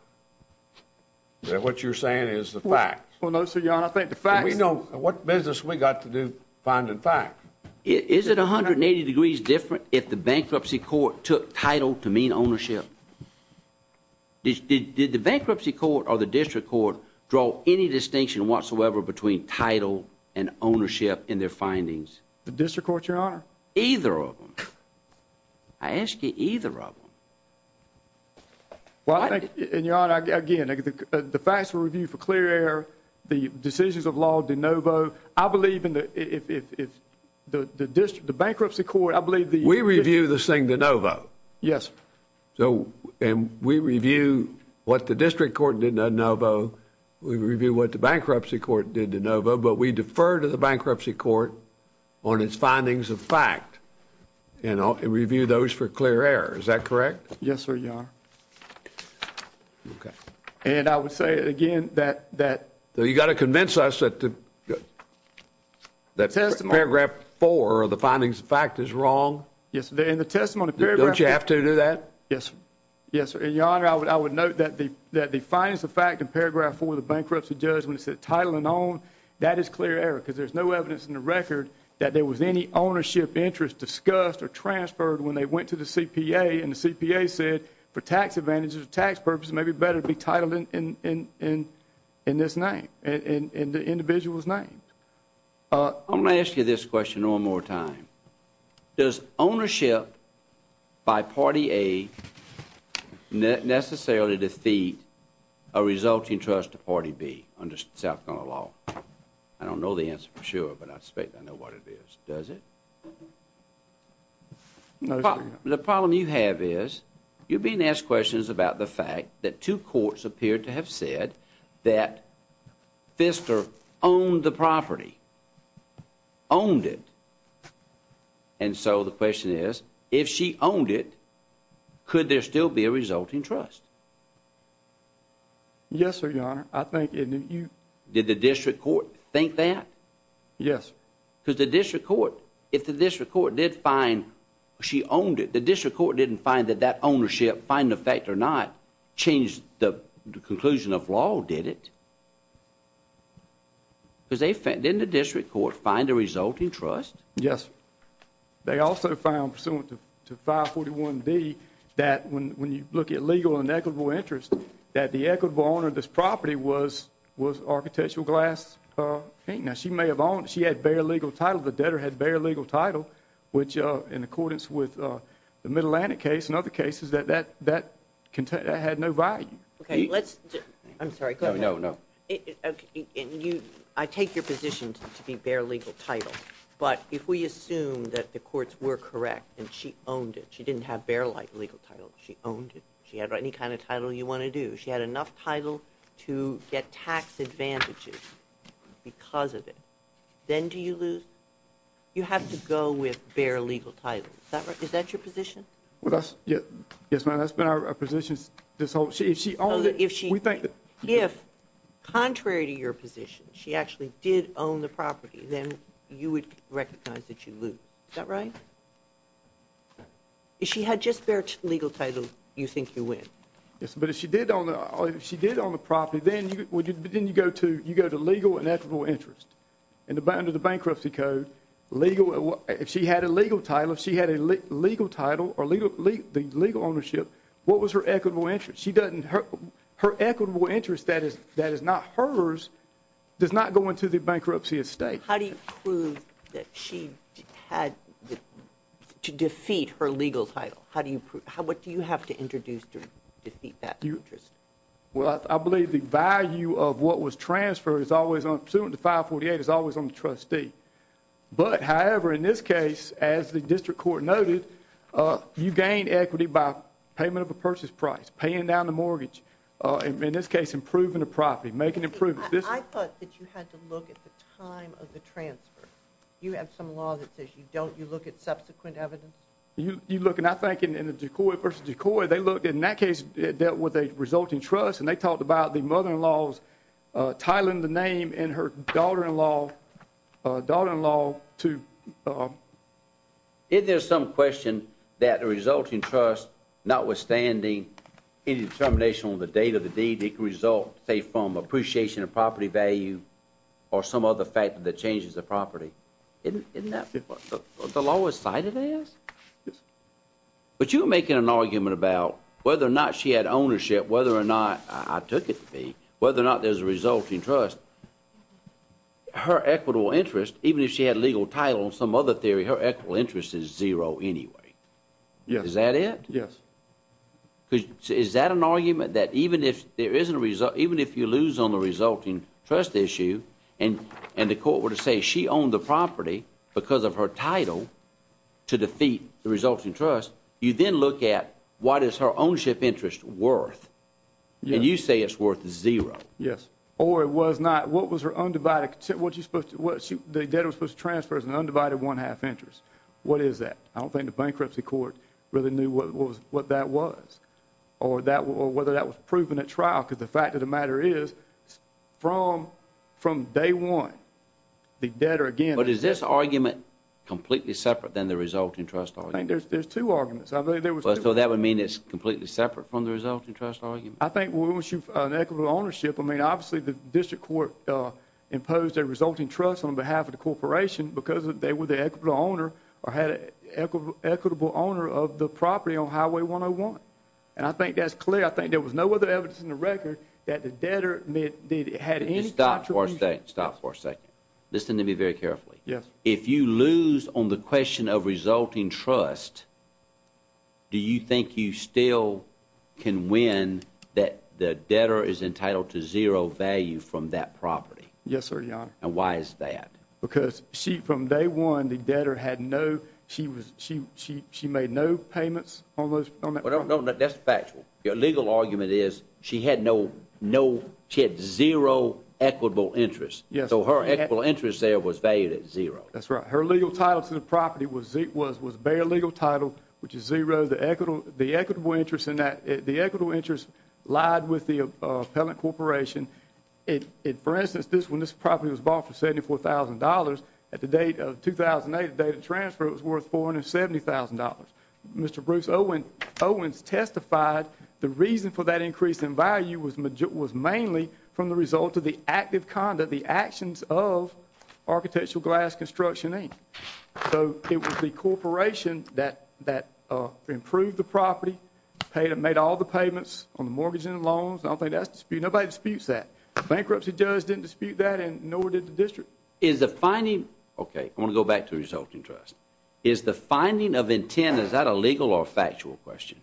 What you're saying is the fact. Well, no, sir, Your Honor, I think the fact is... We know what business we got to do finding facts. Is it 180 degrees different if the bankruptcy court took title to mean ownership? Did the bankruptcy court or the district court draw any distinction whatsoever between title and ownership in their findings? The district court, Your Honor? Either of them. I ask you, either of them. Well, I think... And, Your Honor, again, the facts were reviewed for clear error. The decisions of law de novo. I believe in the... The bankruptcy court, I believe the... We review this thing de novo. Yes. And we review what the district court did de novo. We review what the bankruptcy court did de novo, but we defer to the bankruptcy court on its findings of fact and review those for clear error. Is that correct? Yes, sir, Your Honor. Okay. And I would say, again, that... You got to convince us that paragraph 4 of the findings of fact is wrong. Yes, sir. In the testimony... Don't you have to do that? Yes, sir. Yes, sir. And, Your Honor, I would note that the findings of fact in paragraph 4 of the bankruptcy judgment said title and own. That is clear error because there's no evidence in the record that there was any ownership interest that was discussed or transferred when they went to the CPA and the CPA said for tax advantages or tax purposes it may be better to be titled in this name, in the individual's name. I'm going to ask you this question one more time. Does ownership by Party A necessarily defeat a resulting trust of Party B under South Carolina law? I don't know the answer for sure, but I suspect I know what it is. Does it? No, sir. The problem you have is you're being asked questions about the fact that two courts appear to have said that Fisker owned the property. Owned it. And so the question is if she owned it, could there still be a resulting trust? Yes, sir, Your Honor. I think... Did the district court think that? Yes. Because the district court... If the district court did find she owned it, the district court didn't find that that ownership, find the fact or not, changed the conclusion of law, did it? Didn't the district court find a resulting trust? Yes. They also found pursuant to 541D that when you look at legal and equitable interest, that the equitable owner of this property was Architectural Glass Fink. Now, she may have owned... She had bare legal title. The debtor had bare legal title, which in accordance with the Mid-Atlantic case and other cases, that had no value. Okay, let's... I'm sorry. No, no, no. I take your position to be bare legal title. But if we assume that the courts were correct and she owned it, she didn't have bare legal title, she owned it, she had any kind of title you want to do, she had enough title to get tax advantages because of it. Then do you lose? You have to go with bare legal title. Is that right? Is that your position? Well, that's... Yes, ma'am. That's been our position this whole... If she owned it, we think that... If, contrary to your position, she actually did own the property, then you would recognize that you lose. Is that right? If she had just bare legal title, you think you win. Yes, but if she did own the property, then you go to legal and equitable interest. Under the bankruptcy code, legal... If she had a legal title, if she had a legal title or the legal ownership, what was her equitable interest? She doesn't... Her equitable interest that is not hers does not go into the bankruptcy estate. How do you prove that she had... to defeat her legal title? How do you prove... What do you have to introduce to defeat that interest? Well, I believe the value of what was transferred is always on... 548 is always on the trustee. But, however, in this case, as the district court noted, you gain equity by payment of a purchase price, paying down the mortgage, in this case, improving the property, making improvements. I thought that you had to look at the time of the transfer. You have some law that says you don't. You look at subsequent evidence. You look, and I think in the DeCoy versus DeCoy, they looked... In that case, it dealt with a resulting trust, and they talked about the mother-in-law's title and the name in her daughter-in-law... daughter-in-law to... Isn't there some question that the resulting trust, notwithstanding any determination on the date of the deed, it can result, say, from appreciation of property value or some other factor that changes the property? Isn't that the lowest side of this? But you're making an argument about whether or not she had ownership, whether or not... I took it to be. Whether or not there's a resulting trust, her equitable interest, even if she had legal title on some other theory, her equitable interest is zero anyway. Is that it? Yes. Is that an argument that even if there isn't a result, even if you lose on the resulting trust issue and the court were to say she owned the property because of her title to defeat the resulting trust, you then look at what is her ownership interest worth? And you say it's worth zero. Yes. Or it was not. What was her undivided... The debtor was supposed to transfer as an undivided one-half interest. What is that? I don't think the bankruptcy court really knew what that was or whether that was proven at trial because the fact of the matter is from day one, the debtor, again... But is this argument completely separate than the resulting trust argument? I think there's two arguments. So that would mean it's completely separate from the resulting trust argument? I think when she's talking about an equitable ownership, I mean, obviously, the district court imposed a resulting trust on behalf of the corporation because they were the equitable owner or had an equitable owner of the property on Highway 101. And I think that's clear. I think there was no other evidence in the record that the debtor had any... Stop for a second. Stop for a second. Listen to me very carefully. Yes. If you lose on the question of resulting trust, do you think you still can win that the debtor is entitled to zero value from that property? Yes, sir, Your Honor. And why is that? Because from day one, the debtor had no... She made no payments on that property. That's factual. Your legal argument is she had no... She had zero equitable interest. Yes. So her equitable interest there was valued at zero. That's right. Her legal title for the property was bare legal title, which is zero. The equitable interest in that... The equitable interest lied with the appellant corporation. For instance, this property was bought for $74,000. At the date of 2008, the date of transfer, it was worth $470,000. Mr. Bruce Owens testified the reason for that increase in value was mainly from the result the actions of Architectural Glass Construction Inc. So it was the corporation that improved the property, made all the payments on the mortgage and the loans. I don't think that's disputed. Nobody disputes that. The bankruptcy judge didn't dispute that, and nor did the district. Is the finding... Okay, I'm going to go back to the resulting trust. Is the finding of intent... Is that a legal or factual question?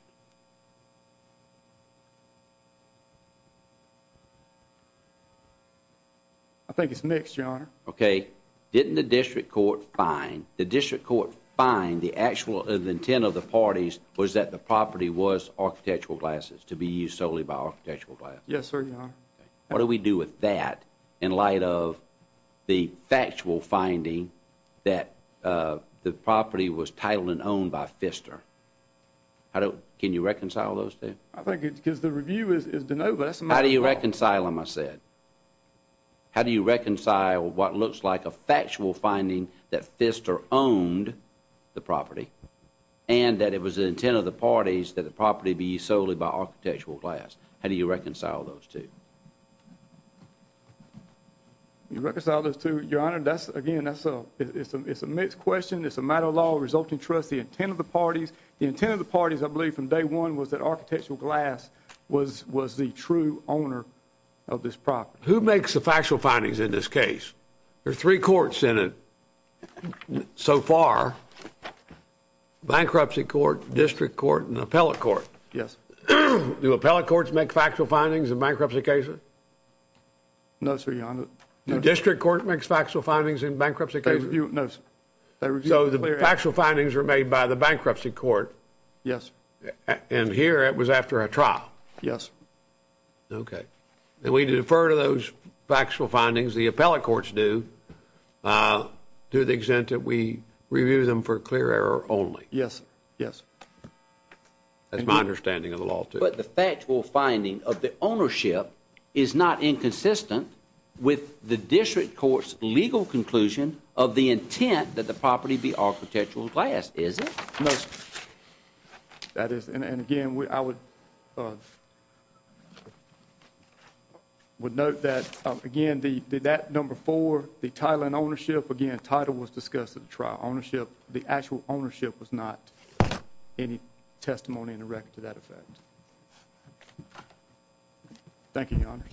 I think it's next, Your Honor. Okay. Didn't the district court find... The district court find the actual intent of the parties was that the property was Architectural Glasses to be used solely by Architectural Glasses. Yes, sir, Your Honor. What do we do with that in light of the factual finding that the property was titled and owned by Pfister? Can you reconcile those two? I think it's because the review is to know that's not... How do you reconcile what looks like a factual finding that Pfister owned the property and that it was the intent of the parties that the property be used solely by Architectural Glasses? How do you reconcile those two? You reconcile those two, Your Honor, that's... Again, that's a... It's a mixed question. It's a matter of law, resulting trust, the intent of the parties. The intent of the parties, I believe, from day one was that Architectural Glass was the true owner of this property. Who makes the factual findings in this case? There are three courts in it so far bankruptcy court, district court, and appellate court. Yes. Do appellate courts make factual findings in bankruptcy cases? No, sir, Your Honor. The district court makes factual findings in bankruptcy cases? No, sir. So the factual findings are made by the bankruptcy court? Yes. And here it was after a trial? Yes. Okay. And we defer to those factual findings, the appellate courts do, to the extent that we review them for clear error only? Yes, yes. That's my understanding of the law, too. But the factual finding of the ownership is not inconsistent with the district court's legal conclusion of the intent that the property be Architectural Glass, is it? No, sir. That is, and again, I would note that, again, that number four, the title and ownership, again, title was discussed at the trial. Ownership, the actual ownership was not any testimony in the record to that effect. Thank you, Your Honor.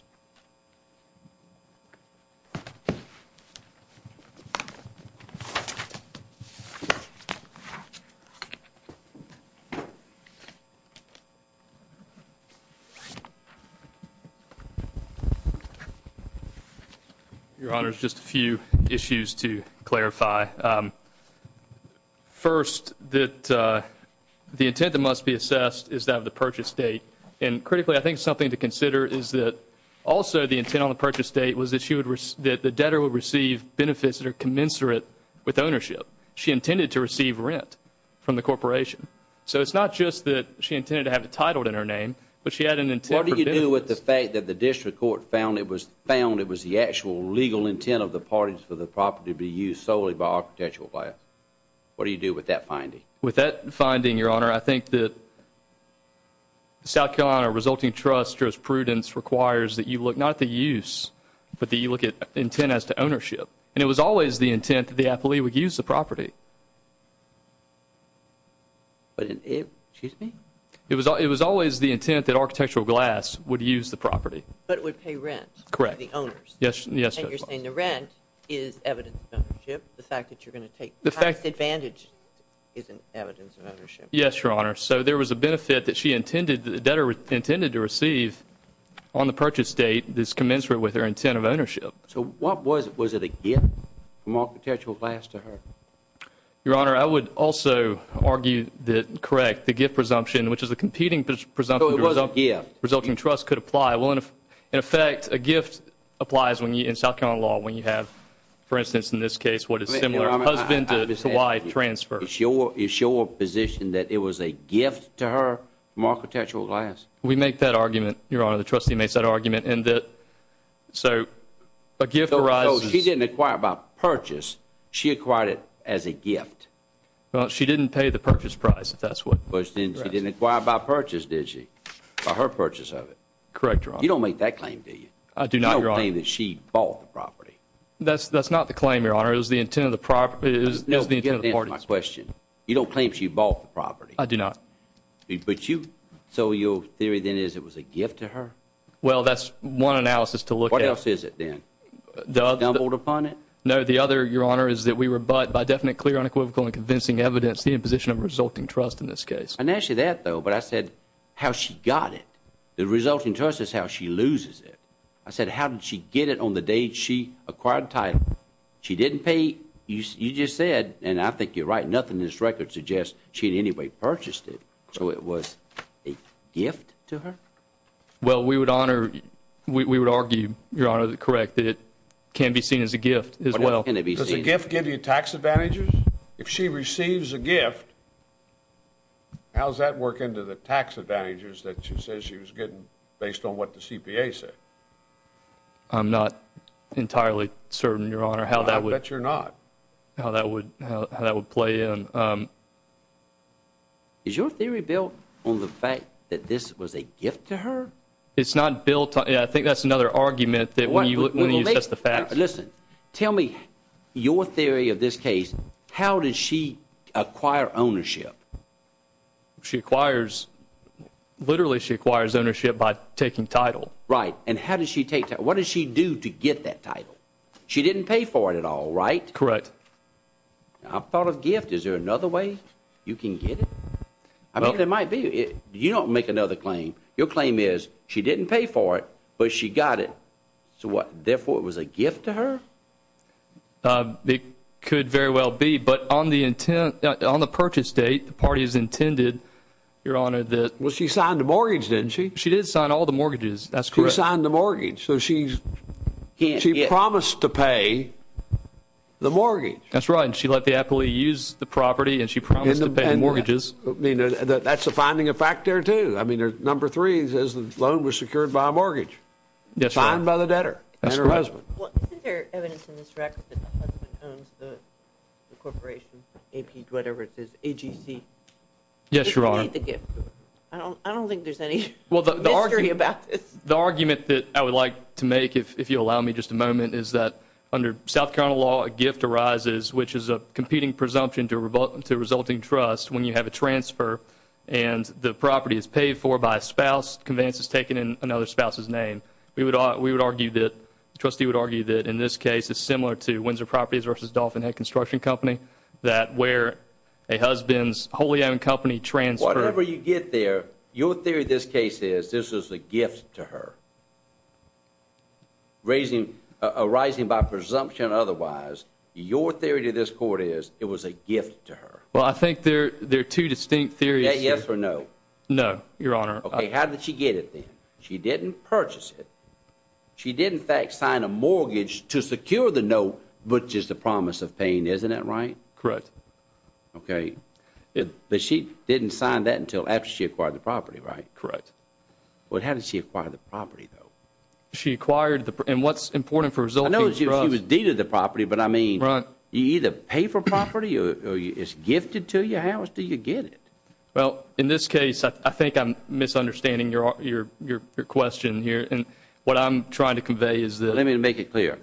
Your Honor, just a few issues to clarify. First, that the intent that must be assessed is that of the purchase state. And critically, I think something to consider is that also the intent on the purchase state was that the debtor would receive benefits that are commensurate with ownership. She intended to receive rent from the corporation. So it's not just that she intended to have the title in her name, but she had an intent for benefits. What did you do with the fact that the district court found it was the actual legal intent of the parties for the property to be used solely by Architectural Glass? What do you do with that finding? With that finding, Your Honor, I think that the South Carolina Resulting Trust jurisprudence requires that you look not at the use, but that you look at intent as to ownership. And it was always the intent that the affilee would use the property. It was always the intent that Architectural Glass would use the property. But it would pay rent to the owners. Yes, Your Honor. And you're saying the rent is evidence of ownership. The fact that you're going to take the highest advantage isn't evidence of ownership. Yes, Your Honor. So there was a benefit that she intended to receive on the purchase date that's commensurate with her intent of ownership. So what was it? Was it a gift from Architectural Glass to her? Your Honor, I would also argue that, correct, the gift presumption, which is a competing presumption of the Resulting Trust could apply. In effect, a gift applies in South Carolina law when you have, for instance, in this case, what is similar to a husband-to-wife transfer. Is your position that it was a gift to her from Architectural Glass? We make that argument, Your Honor. The trustee makes that argument. And so, a gift arises... So she didn't acquire by purchase. She acquired it as a gift. She didn't pay the purchase price, if that's what... She didn't acquire by purchase, did she? By her purchase of it. Correct, Your Honor. You don't make that claim, do you? I do not, Your Honor. You don't claim that she bought the property. That's not the claim, Your Honor. It was the intent of the property... You don't claim she bought the property. I do not. But you... So your theory, then, is it was a gift to her? Well, that's one analysis to look at. What else is it, then? The other... You stumbled upon it? No, the other, Your Honor, is that we rebut by definite clear, unequivocal, and convincing evidence the imposition of Resulting Trust in this case. I mentioned that, though, but I said, how she got it. The Resulting Trust is how she loses it. I said, how did she get it on the day she acquired the title? She didn't pay. You just said, and I think you're right, nothing in this record suggests she in any way purchased it. So it was a gift to her? Well, we would argue, Your Honor, correct, that it can be seen as a gift as well. Does a gift give you tax advantages? If she receives a gift, how does that work into the tax advantages that she says she was getting based on what the CPA said? I'm not entirely certain, Your Honor, how that would play in. Is your theory built on the fact that this was a gift to her? It's not built, I think that's another argument that when you look at the facts. Listen, tell me your theory of this case. How did she acquire ownership? She acquires, literally, she acquires ownership by taking title. Right, and how did she take that? What did she do to get that title? She didn't pay for it at all, right? Correct. I thought of gift. Is there another way you can get it? I mean, there might be. You don't make another claim. Your claim is she didn't pay for it, but she got it. So what, therefore, it was a gift to her? It could very well be, but on the intent, on the purchase date, the party has intended, Your Honor, that, well, she signed the mortgage, didn't she? She did sign all the mortgages. That's correct. She signed the mortgage, so she's, she promised to pay the mortgage. That's right, and she let the appellee use the property, and she promised to pay the mortgages. That's a finding of fact there, too. I mean, number three is the loan was secured by a mortgage, signed by the debtor and her husband. Well, is there evidence in this record that the corporation, AP, whatever it is, AGC, Yes, Your Honor. I don't think there's any mystery about this. Well, the argument that I would like to make, if you'll allow me just a moment, is that under South Carolina law, a gift arises, which is a competing presumption to resulting trust when you have a transfer, and the property is paid for by a spouse, conveyance is taken in another spouse's name. We would argue that, the trustee would argue that in this case, it's similar to Windsor Properties versus Dolphin Head Construction Company, that where a husband's wholly owned company transfers. Whenever you get there, your theory of this case is this is a gift to her. Arising by presumption otherwise, your theory to this court is it was a gift to her. Well, I think there are Yes or no? No, Your Honor. Okay, how did she get it then? She didn't purchase it. She did, in fact, sign a mortgage to secure the note, which is the promise of paying, isn't that right? Correct. Okay, but she didn't sign that until after she acquired the property, right? Correct. But how did she acquire the property, though? She acquired the and what's important for resulting trust I know she was deeded the property, but I mean, you either pay for property or it's gifted to you, how else do you get it? Well, in this case, I think I'm misunderstanding your question here, and what I'm trying to convey is that let me make it clear,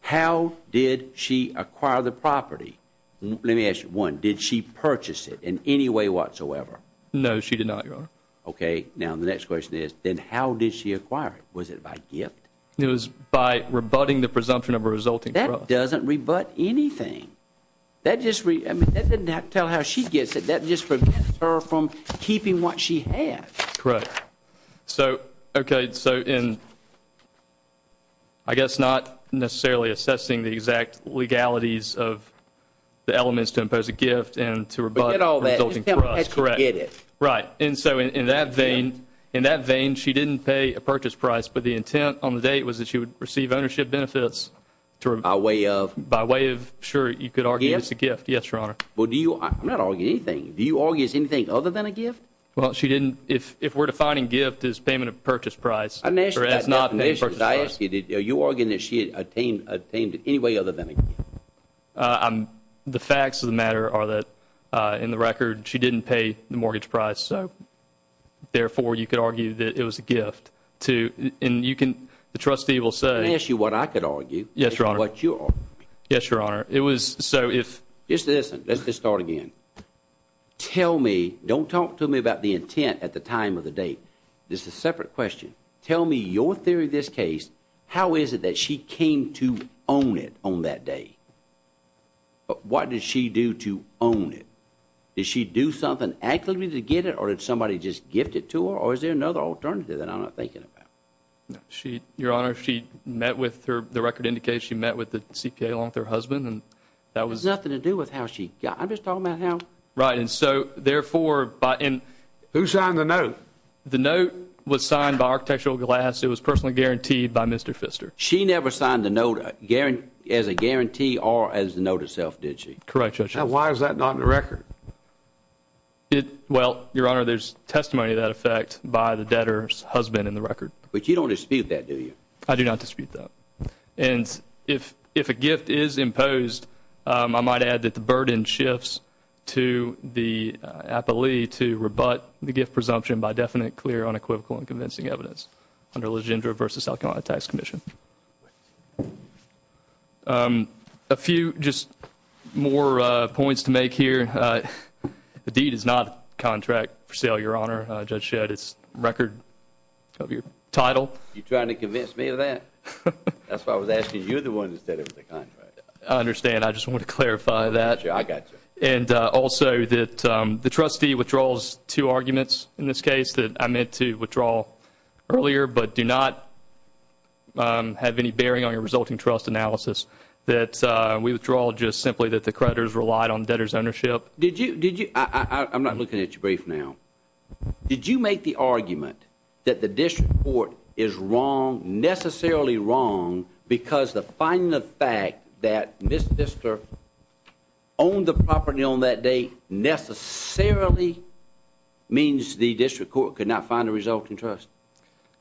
how did she acquire the property? Let me ask you one, did she purchase it in any way whatsoever? No, she did not, Your Honor. Okay, now the next question is, then how did she acquire it? Was it by gift? It was by rebutting the presumption of a resulting trust. That doesn't rebut anything. That just re I mean, that doesn't tell how she gets it, that just prevents her from keeping what she has. Correct. So, okay, so in I guess not necessarily assessing the exact legalities of the elements to impose a gift and to rebut the resulting trust. Correct. Right, and so in that vein, in that vein, she didn't pay a purchase price, but the intent on the date was that she would receive ownership benefits by way of by way of, sure, you could argue it's a gift. Yes, Your Honor. Well, do you, I'm not arguing anything, do you argue it's anything other than a gift? Well, she didn't, if we're defining gift as payment of purchase price, or if not, purchase price. Are you arguing that she attained attained in any way other than a gift? I'm, the facts of the matter are that in the record, she didn't pay the mortgage price, so, therefore, you could argue that it was a gift to, and you can, the trustee will say, Let me ask you what I could argue. Yes, Your Honor. What you argued. Yes, Your Honor. It was, so if, Just listen, let's just start again. Tell me, don't talk to me about the intent at the time of the date. This is a separate question. Tell me your theory of this case. How is it that she came to own it on that day? What did she do to own it? Did she do something actually to get it, or did somebody just gift it to her, or is there another alternative that I'm not thinking about? She, Your Honor, she met with her, the record indicates she met with the CPA along with her husband, and that was nothing to do with how she got it. I'm just talking about how. Right, and so, therefore, who signed the note? The note was signed by Architectural Glass. It was personally guaranteed by Mr. Pfister. She never signed the note as a guarantee or as the note itself, did she? Correct, Judge. Now, why is that not in the record? It, well, Your Honor, there's testimony of that effect by the debtor's husband in the record. But you don't dispute that, do you? I do not dispute that, and if a gift is imposed, I might add that the burden shifts to the appellee to rebut the gift presumption by definite, clear, unequivocal, and convincing evidence under Legendre v. South Carolina Tax Commission. A few, just more points to make here. The deed is not contract for sale, Your Honor. Judge Shedd, it's record of your title. You're trying to convince me of that? That's why I was asking you the one who said it was a contract. I understand. I just want to clarify that. I got you. And also, that the trustee withdraws two arguments in this case that I meant to withdraw earlier, but do not have any bearing on your resulting trust analysis. That we withdraw just simply that the creditors relied on debtor's ownership. Did you, did you, I'm not looking at your brief now. Did you make the argument that the district court is wrong, necessarily wrong, because the final fact that this district owned the property on that date necessarily means the district court could not find a resulting trust?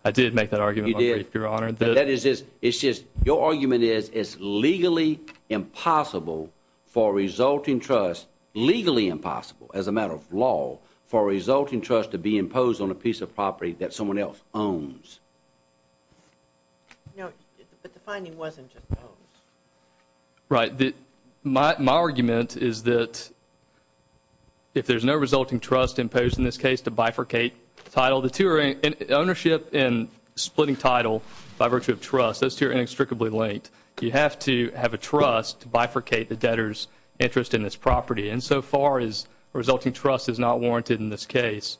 I did make that argument. You did? Your Honor, I did. That is just, it's just, your argument is it's legally impossible for a resulting trust, legally impossible as a matter of law, for a resulting trust to be imposed on a piece of property that someone else owns. No, but the finding wasn't just owns. Right, my argument is that if there's no resulting trust imposed in this case to bifurcate title, the two are, ownership and splitting title by virtue of trust, those two are inextricably linked. You have to have a trust to bifurcate the debtor's interest in this property and so far as resulting trust is not warranted in this case,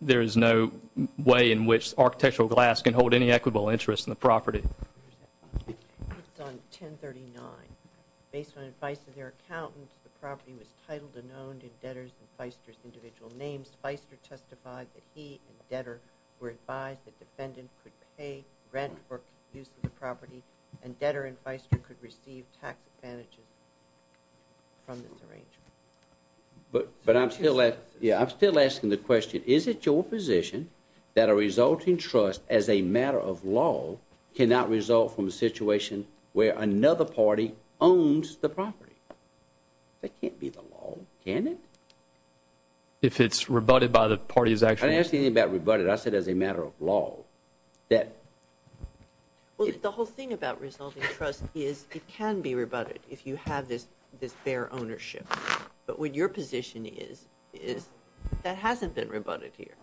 there is no way in which architectural glass can hold any equitable interest in the property. Based on 1039, based on advice of their accountants, the property was titled and owned in debtor's and feister's individual names. Feister testified that he and debtor were advised that defendants could pay rent for use of the property and debtor and feister could receive tax advantages from this arrangement. But I'm still asking the question, is it your position that a resulting trust as a matter of law cannot result from a situation where another party owns the property? It can't be the law, can it? If it's rebutted by the party's actions. I didn't ask anything about rebutted, I said as a matter of law. Well, the whole thing about resulting trust is it can be rebutted if you have this fair ownership, but what your position is is that hasn't been rebutted here,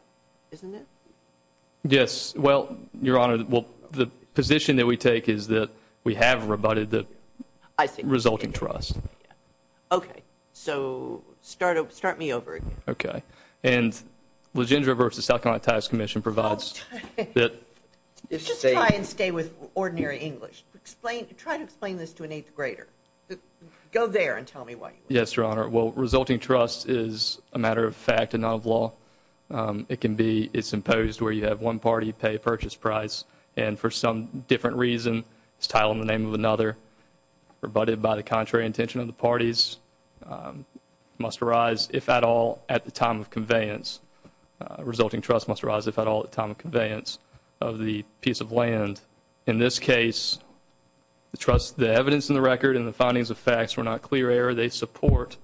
isn't it? Yes. Well, Your Honor, the position that we take is that we have rebutted the resulting trust. Okay. So, start me over again. Okay. And LeGendre v. Stockholm Tax Commission provides that... Just try and stay with ordinary English. Try to explain this to an eighth grader. Go there and tell me why. Yes, Your Honor. Well, resulting trust is a matter of fact and not of law. It can be it's imposed where you have one party pay a purchase price and for some different reason it's titled in the name of another rebutted by the contrary intention of the parties must arise, if at all, at the time of conveyance. Resulting trust must arise if at all, at the time of conveyance of the piece of land. In this case, the evidence in the record and the findings of facts were not clear error. They support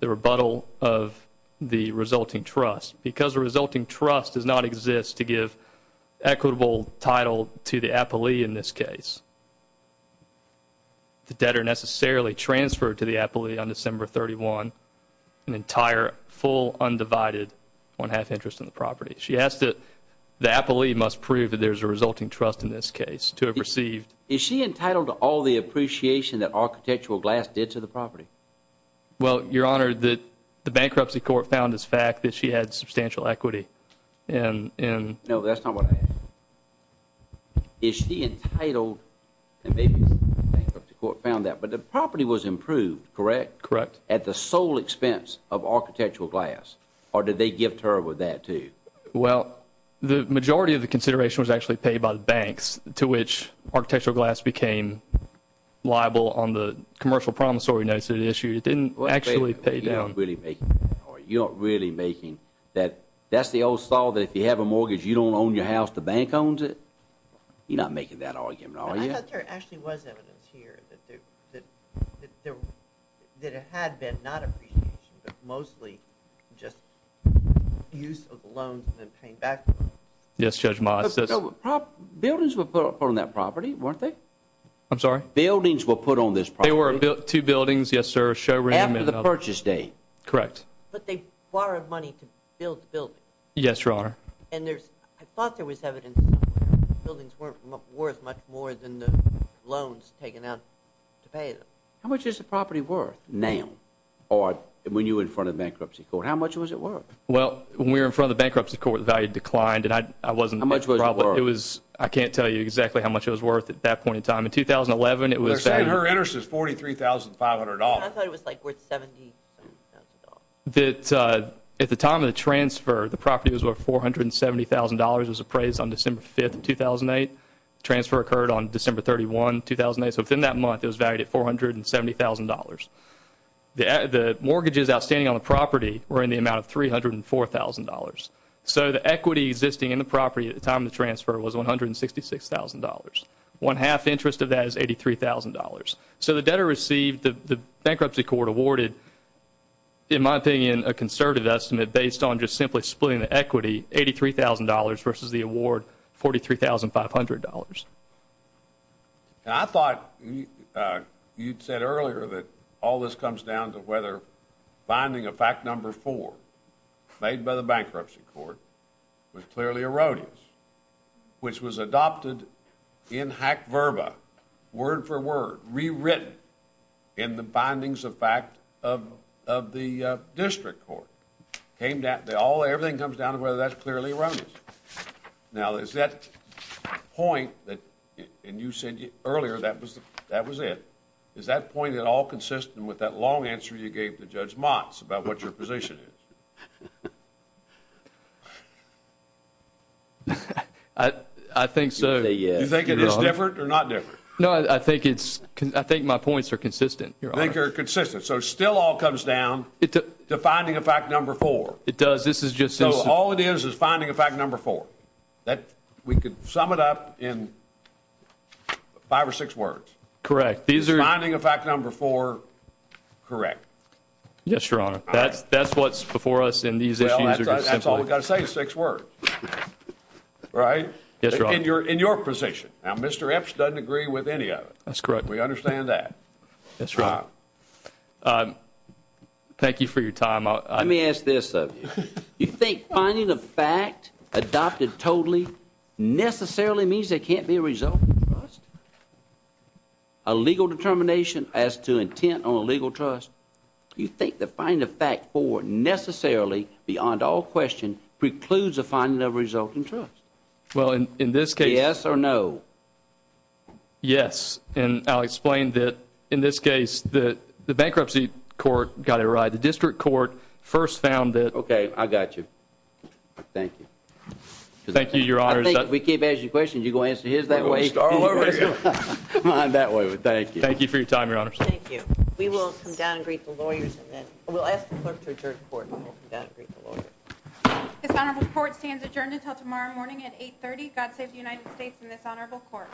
the rebuttal of the resulting trust. Because the resulting trust does not exist to give equitable title to the appellee in this case. The debtor necessarily transferred to the appellee on December 31, an entire full undivided one-half interest in the property. She asked that the appellee must prove that there's a resulting trust in this case to have received... Is she entitled to all the appreciation that Architectural Glass did to the property? Well, Your Honor, the bankruptcy court found this fact that she had substantial equity and... No, that's not what I asked. Is she entitled... The bankruptcy court found that. But the property was improved, correct? Correct. At the sole expense of Architectural Glass or did they gift her with that too? Well, the majority of the consideration was actually paid by the banks to which Architectural Glass became liable on the commercial promissory notes that issued. It didn't actually pay down. You're not really making... You're not really making... That's the old style that if you have a mortgage you don't own your house, the bank owns it. You're not making that argument, are you? I thought there actually was evidence here that there... that there... that it had been not appreciation but mostly just use of loans and then paying back. Yes, Judge Mott. So, properties... Buildings were put up on that property, weren't they? I'm sorry? Buildings were put on this property? There were two buildings, yes, sir. After the purchase date. Correct. But they borrowed money to build the building. Yes, Your Honor. And there's... I thought there was evidence that the buildings weren't worth much more than the loans taken out to pay them. How much is the property worth now or when you were in front of the bankruptcy court? How much was it worth? Well, when we were in front of the bankruptcy court the value declined and I wasn't... How much was it worth? I can't tell you exactly how much it was worth at that point in time. In 2011 it was... In her interest it was $43,500. I thought it was like worth $70,000. At the time of the transfer the property was worth $470,000. It was appraised on December 5, 2008. Transfer occurred on December 31, 2008. So within that month it was valued at $470,000. The mortgages outstanding on the property were in the amount of $304,000. So the equity existing in the property at the time of the transfer was $166,000. One-half interest of that is $83,000. So the debtor received the bankruptcy court awarded, in my opinion, a conservative estimate based on just simply splitting the equity, $83,000 versus the award $43,500. I thought you'd said earlier that all this comes down to whether finding a fact number four made by the bankruptcy court was clearly erroneous, which was adopted in hack verba, word for word, rewritten in the findings of fact of the district court. Everything comes down to whether that's clearly erroneous. Now is that point that you said earlier that was it, is that point at all consistent with that long answer you gave to Judge Motz about what your position is? I think so. You think it is different or not different? No, I think my points are consistent. I think they're consistent. So it still all comes down to finding a fact number four. It does. All it is is finding a fact number four. We could sum it up in five or six words. Correct. Finding a fact number four, correct. Yes, Your Honor. That's what's before us in these issues. That's all we've got to say is six words. Right? Yes, Your Honor. In your position. Now Mr. Ipsch doesn't agree with any of it. That's correct. We understand that. Yes, Your Honor. Thank you for your time. Let me ask this of you. You think finding a fact adopted totally necessarily means there can't be a result in the trust? A legal determination as to intent on a legal trust, you think that finding a fact four necessarily beyond all question precludes a finding of a result in trust? Well, in this case... Yes or no? Yes. And I'll explain that in this case the bankruptcy court got it right. The district court first found that... Okay, I got you. Thank you. Thank you, Your Honor. I think if we keep asking questions, you're going to answer his that way. Mine that way. Thank you. Thank you for your time, Your Honor. Thank you. We will come down and brief the lawyers. We'll ask the clerk to return to court and we'll come down and brief the lawyers. This honorable court stands adjourned until tomorrow morning at 8.30. God save the United States and this honorable court.